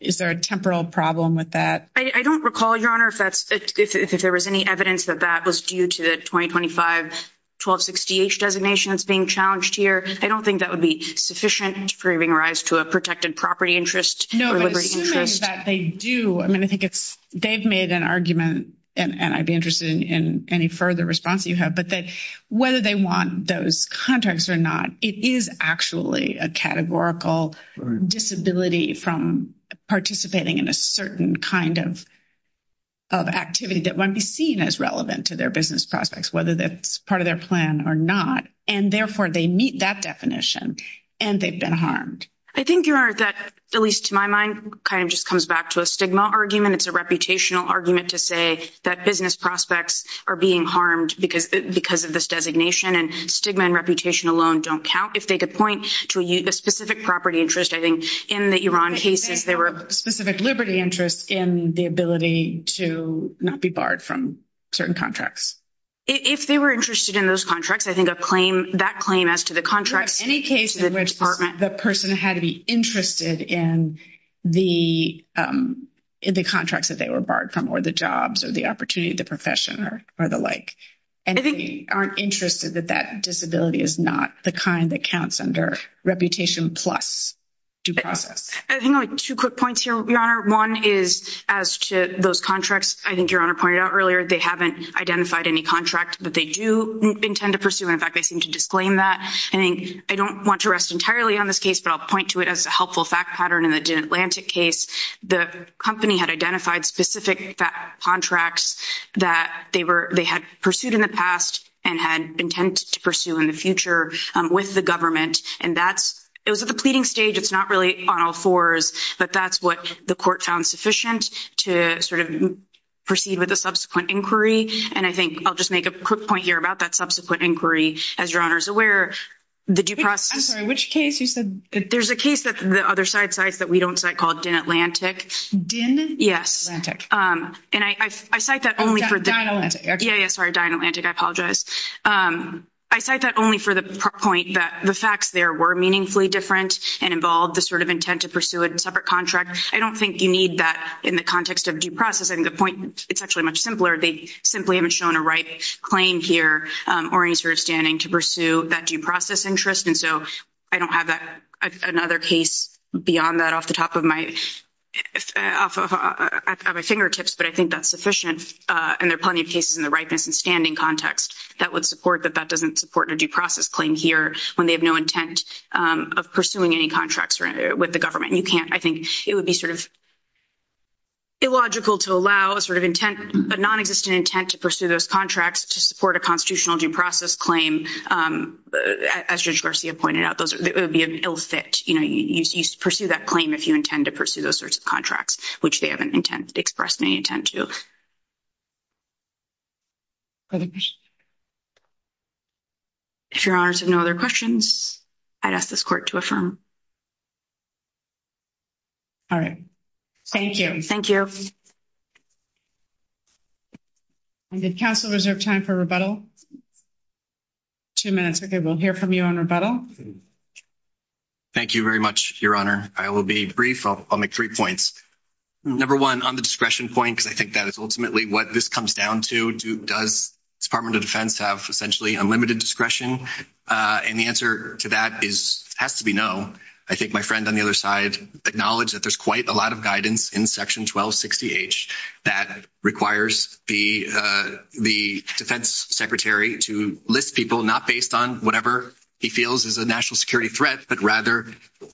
Is there a temporal problem with that? I don't recall, Your Honor, if there was any evidence that that was due to the 2025 1260H designation that's being challenged here. I don't think that would be sufficient for giving rise to a protected property interest or liberty interest. I mean, I think they've made an argument, and I'd be interested in any further response you have. But whether they want those contracts or not, it is actually a categorical disability from participating in a certain kind of activity that wouldn't be seen as relevant to their business prospects, whether that's part of their plan or not. And therefore, they meet that definition, and they've been harmed. I think, Your Honor, that, at least to my mind, kind of just comes back to a stigma argument. It's a reputational argument to say that business prospects are being harmed because of this designation. And stigma and reputation alone don't count. If they could point to a specific property interest, I think in the Iran cases, there were specific liberty interests in the ability to not be barred from certain contracts. If they were interested in those contracts, I think that claim as to the contracts to the department. In any case in which the person had to be interested in the contracts that they were barred from, or the jobs, or the opportunity, the profession, or the like. And they aren't interested that that disability is not the kind that counts under reputation plus due process. I think I have two quick points here, Your Honor. One is as to those contracts, I think Your Honor pointed out earlier, they haven't identified any contract that they do intend to pursue. In fact, they seem to disclaim that. I think I don't want to rest entirely on this case, but I'll point to it as a helpful fact pattern in the Atlantic case. The company had identified specific contracts that they had pursued in the past and had intended to pursue in the future with the government. It was at the pleading stage. It's not really on all fours, but that's what the court found sufficient to proceed with the subsequent inquiry. And I think I'll just make a quick point here about that subsequent inquiry. As Your Honor is aware, the due process— I'm sorry, which case? There's a case that the other side cites that we don't cite called Din Atlantic. Din Atlantic? Yes. Oh, Din Atlantic. Yeah, yeah, sorry. Din Atlantic. I apologize. I cite that only for the point that the facts there were meaningfully different and involved the sort of intent to pursue a separate contract. I don't think you need that in the context of due process. I think the point—it's actually much simpler. They simply haven't shown a right claim here or any sort of standing to pursue that due process interest, and so I don't have another case beyond that off the top of my fingertips, but I think that's sufficient, and there are plenty of cases in the ripeness and standing context that would support that that doesn't support a due process claim here when they have no intent of pursuing any contracts with the government. You can't—I think it would be sort of illogical to allow a sort of intent, a nonexistent intent to pursue those contracts to support a constitutional due process claim. As Judge Garcia pointed out, it would be an ill fit. You pursue that claim if you intend to pursue those sorts of contracts, which they haven't expressed any intent to. If your honors have no other questions, I'd ask this court to affirm. All right. Thank you. Thank you. And did counsel reserve time for rebuttal? Two minutes. Okay, we'll hear from you on rebuttal. Thank you very much, Your Honor. I will be brief. I'll make three points. Number one, on the discretion point, because I think that is ultimately what this comes down to, does the Department of Defense have essentially unlimited discretion? And the answer to that has to be no. I think my friend on the other side acknowledged that there's quite a lot of guidance in Section 1260H that requires the defense secretary to list people not based on whatever he feels is a national security threat, but rather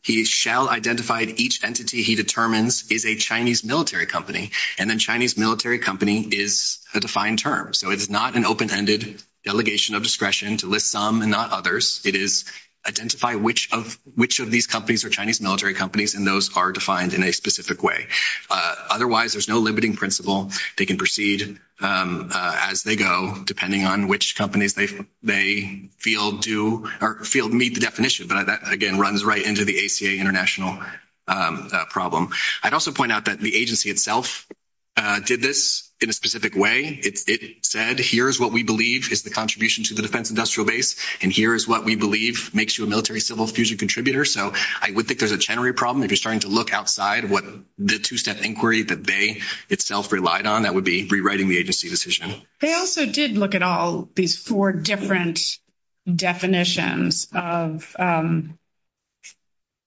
he shall identify each entity he determines is a Chinese military company, and then Chinese military company is a defined term. So it is not an open-ended delegation of discretion to list some and not others. It is identify which of these companies are Chinese military companies, and those are defined in a specific way. Otherwise, there's no limiting principle. They can proceed as they go, depending on which companies they feel meet the definition. But that, again, runs right into the ACA international problem. I'd also point out that the agency itself did this in a specific way. It said, here is what we believe is the contribution to the defense industrial base, and here is what we believe makes you a military-civil fusion contributor. So I would think there's a general problem. If you're starting to look outside what the two-step inquiry that they itself relied on, that would be rewriting the agency decision. They also did look at all these four different definitions of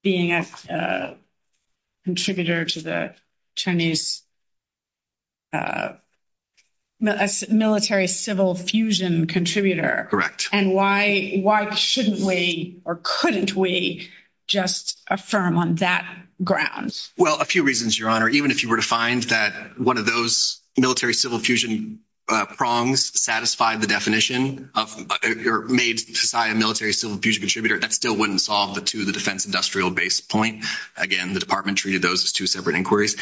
being a contributor to the Chinese military-civil fusion contributor. Correct. And why shouldn't we or couldn't we just affirm on that ground? Well, a few reasons, Your Honor. Even if you were to find that one of those military-civil fusion prongs satisfied the definition or made Hisai a military-civil fusion contributor, that still wouldn't solve to the defense industrial base point. Again, the department treated those as two separate inquiries.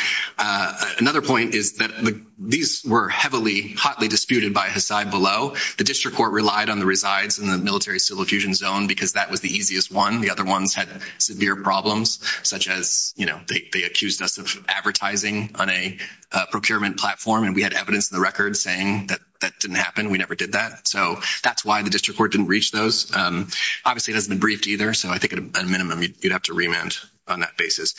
Another point is that these were heavily, hotly disputed by Hisai Below. The district court relied on the resides in the military-civil fusion zone because that was the easiest one. The other ones had severe problems, such as they accused us of advertising on a procurement platform, and we had evidence in the record saying that that didn't happen. We never did that. So that's why the district court didn't reach those. Obviously, it hasn't been briefed either, so I think at a minimum you'd have to remand on that basis.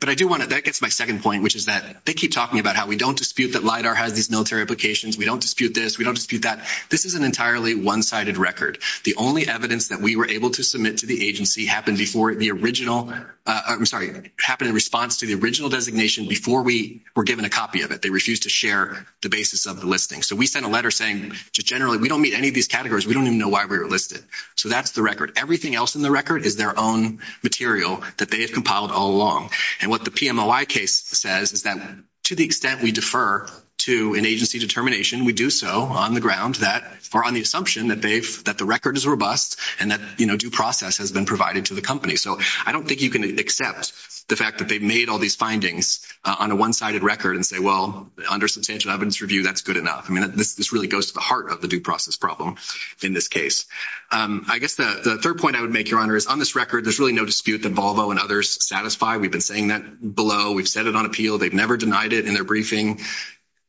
But I do want to – that gets to my second point, which is that they keep talking about how we don't dispute that LIDAR has these military applications. We don't dispute this. We don't dispute that. This is an entirely one-sided record. The only evidence that we were able to submit to the agency happened before the original – I'm sorry. It happened in response to the original designation before we were given a copy of it. They refused to share the basis of the listing. So we sent a letter saying generally we don't meet any of these categories. We don't even know why we were listed. So that's the record. Everything else in the record is their own material that they have compiled all along. And what the PMOI case says is that to the extent we defer to an agency determination, we do so on the ground that – or on the assumption that they've – that the record is robust and that due process has been provided to the company. So I don't think you can accept the fact that they've made all these findings on a one-sided record and say, well, under substantial evidence review, that's good enough. I mean, this really goes to the heart of the due process problem in this case. I guess the third point I would make, Your Honor, is on this record there's really no dispute that Volvo and others satisfy. We've been saying that below. We've said it on appeal. They've never denied it in their briefing.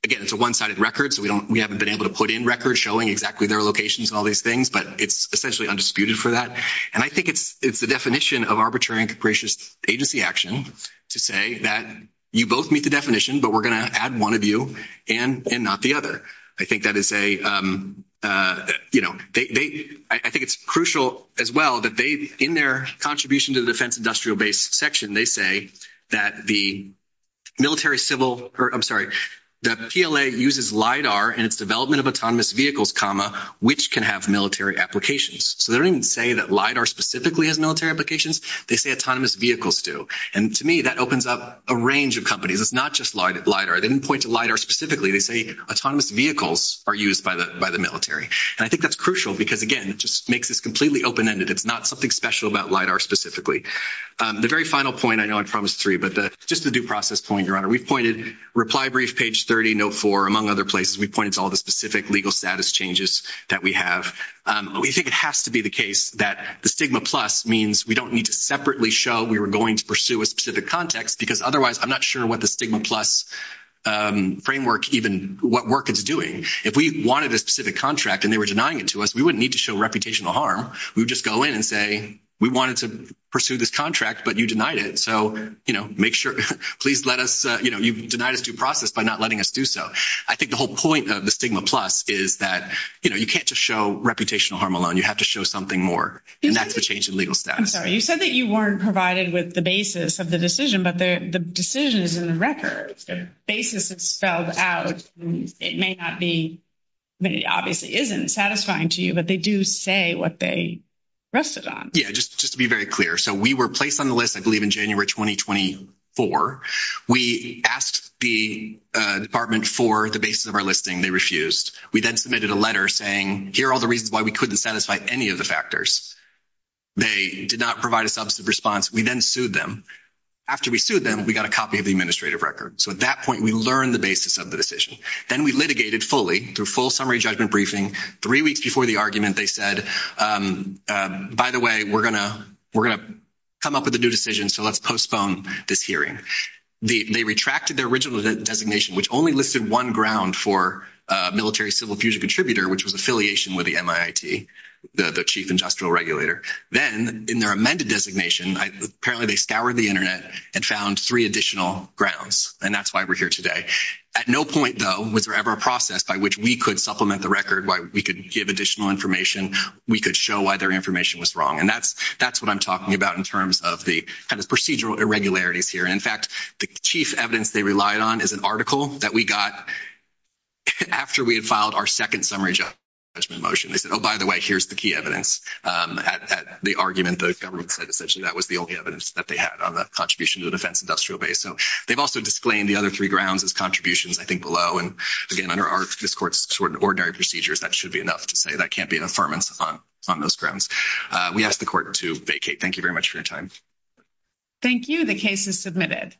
Again, it's a one-sided record, so we haven't been able to put in records showing exactly their locations and all these things, but it's essentially undisputed for that. And I think it's the definition of arbitrary and capricious agency action to say that you both meet the definition, but we're going to add one of you and not the other. I think that is a – you know, they – I think it's crucial as well that they, in their contribution to the defense industrial base section, they say that the military civil – I'm sorry. The PLA uses LIDAR in its development of autonomous vehicles, comma, which can have military applications. So they don't even say that LIDAR specifically has military applications. They say autonomous vehicles do. And to me, that opens up a range of companies. It's not just LIDAR. They didn't point to LIDAR specifically. They say autonomous vehicles are used by the military. And I think that's crucial because, again, it just makes this completely open-ended. It's not something special about LIDAR specifically. The very final point – I know I promised three, but just the due process point, Your Honor. We've pointed – reply brief, page 30, note 4, among other places. We've pointed to all the specific legal status changes that we have. We think it has to be the case that the stigma plus means we don't need to separately show we were going to pursue a specific context because otherwise I'm not sure what the stigma plus framework even means. Even what work it's doing. If we wanted a specific contract and they were denying it to us, we wouldn't need to show reputational harm. We would just go in and say we wanted to pursue this contract, but you denied it. So, you know, make sure – please let us – you know, you denied us due process by not letting us do so. I think the whole point of the stigma plus is that, you know, you can't just show reputational harm alone. You have to show something more. And that's the change in legal status. I'm sorry. You said that you weren't provided with the basis of the decision, but the decision is in the record. The basis is spelled out. It may not be – I mean, it obviously isn't satisfying to you, but they do say what they rested on. Yeah, just to be very clear. So, we were placed on the list, I believe, in January 2024. We asked the department for the basis of our listing. They refused. We then submitted a letter saying here are all the reasons why we couldn't satisfy any of the factors. They did not provide a substantive response. We then sued them. After we sued them, we got a copy of the administrative record. So, at that point, we learned the basis of the decision. Then we litigated fully through full summary judgment briefing. Three weeks before the argument, they said, by the way, we're going to come up with a new decision, so let's postpone this hearing. They retracted their original designation, which only listed one ground for military civil fusion contributor, which was affiliation with the MIIT, the chief industrial regulator. Then, in their amended designation, apparently they scoured the Internet and found three additional grounds, and that's why we're here today. At no point, though, was there ever a process by which we could supplement the record, why we could give additional information, we could show why their information was wrong. And that's what I'm talking about in terms of the kind of procedural irregularities here. And, in fact, the chief evidence they relied on is an article that we got after we had filed our second summary judgment motion. They said, oh, by the way, here's the key evidence. At the argument, the government said essentially that was the only evidence that they had on the contribution to the defense industrial base. So, they've also disclaimed the other three grounds as contributions, I think, below. And, again, under this Court's ordinary procedures, that should be enough to say that can't be an affirmance on those grounds. We ask the Court to vacate. Thank you very much for your time. Thank you. The case is submitted.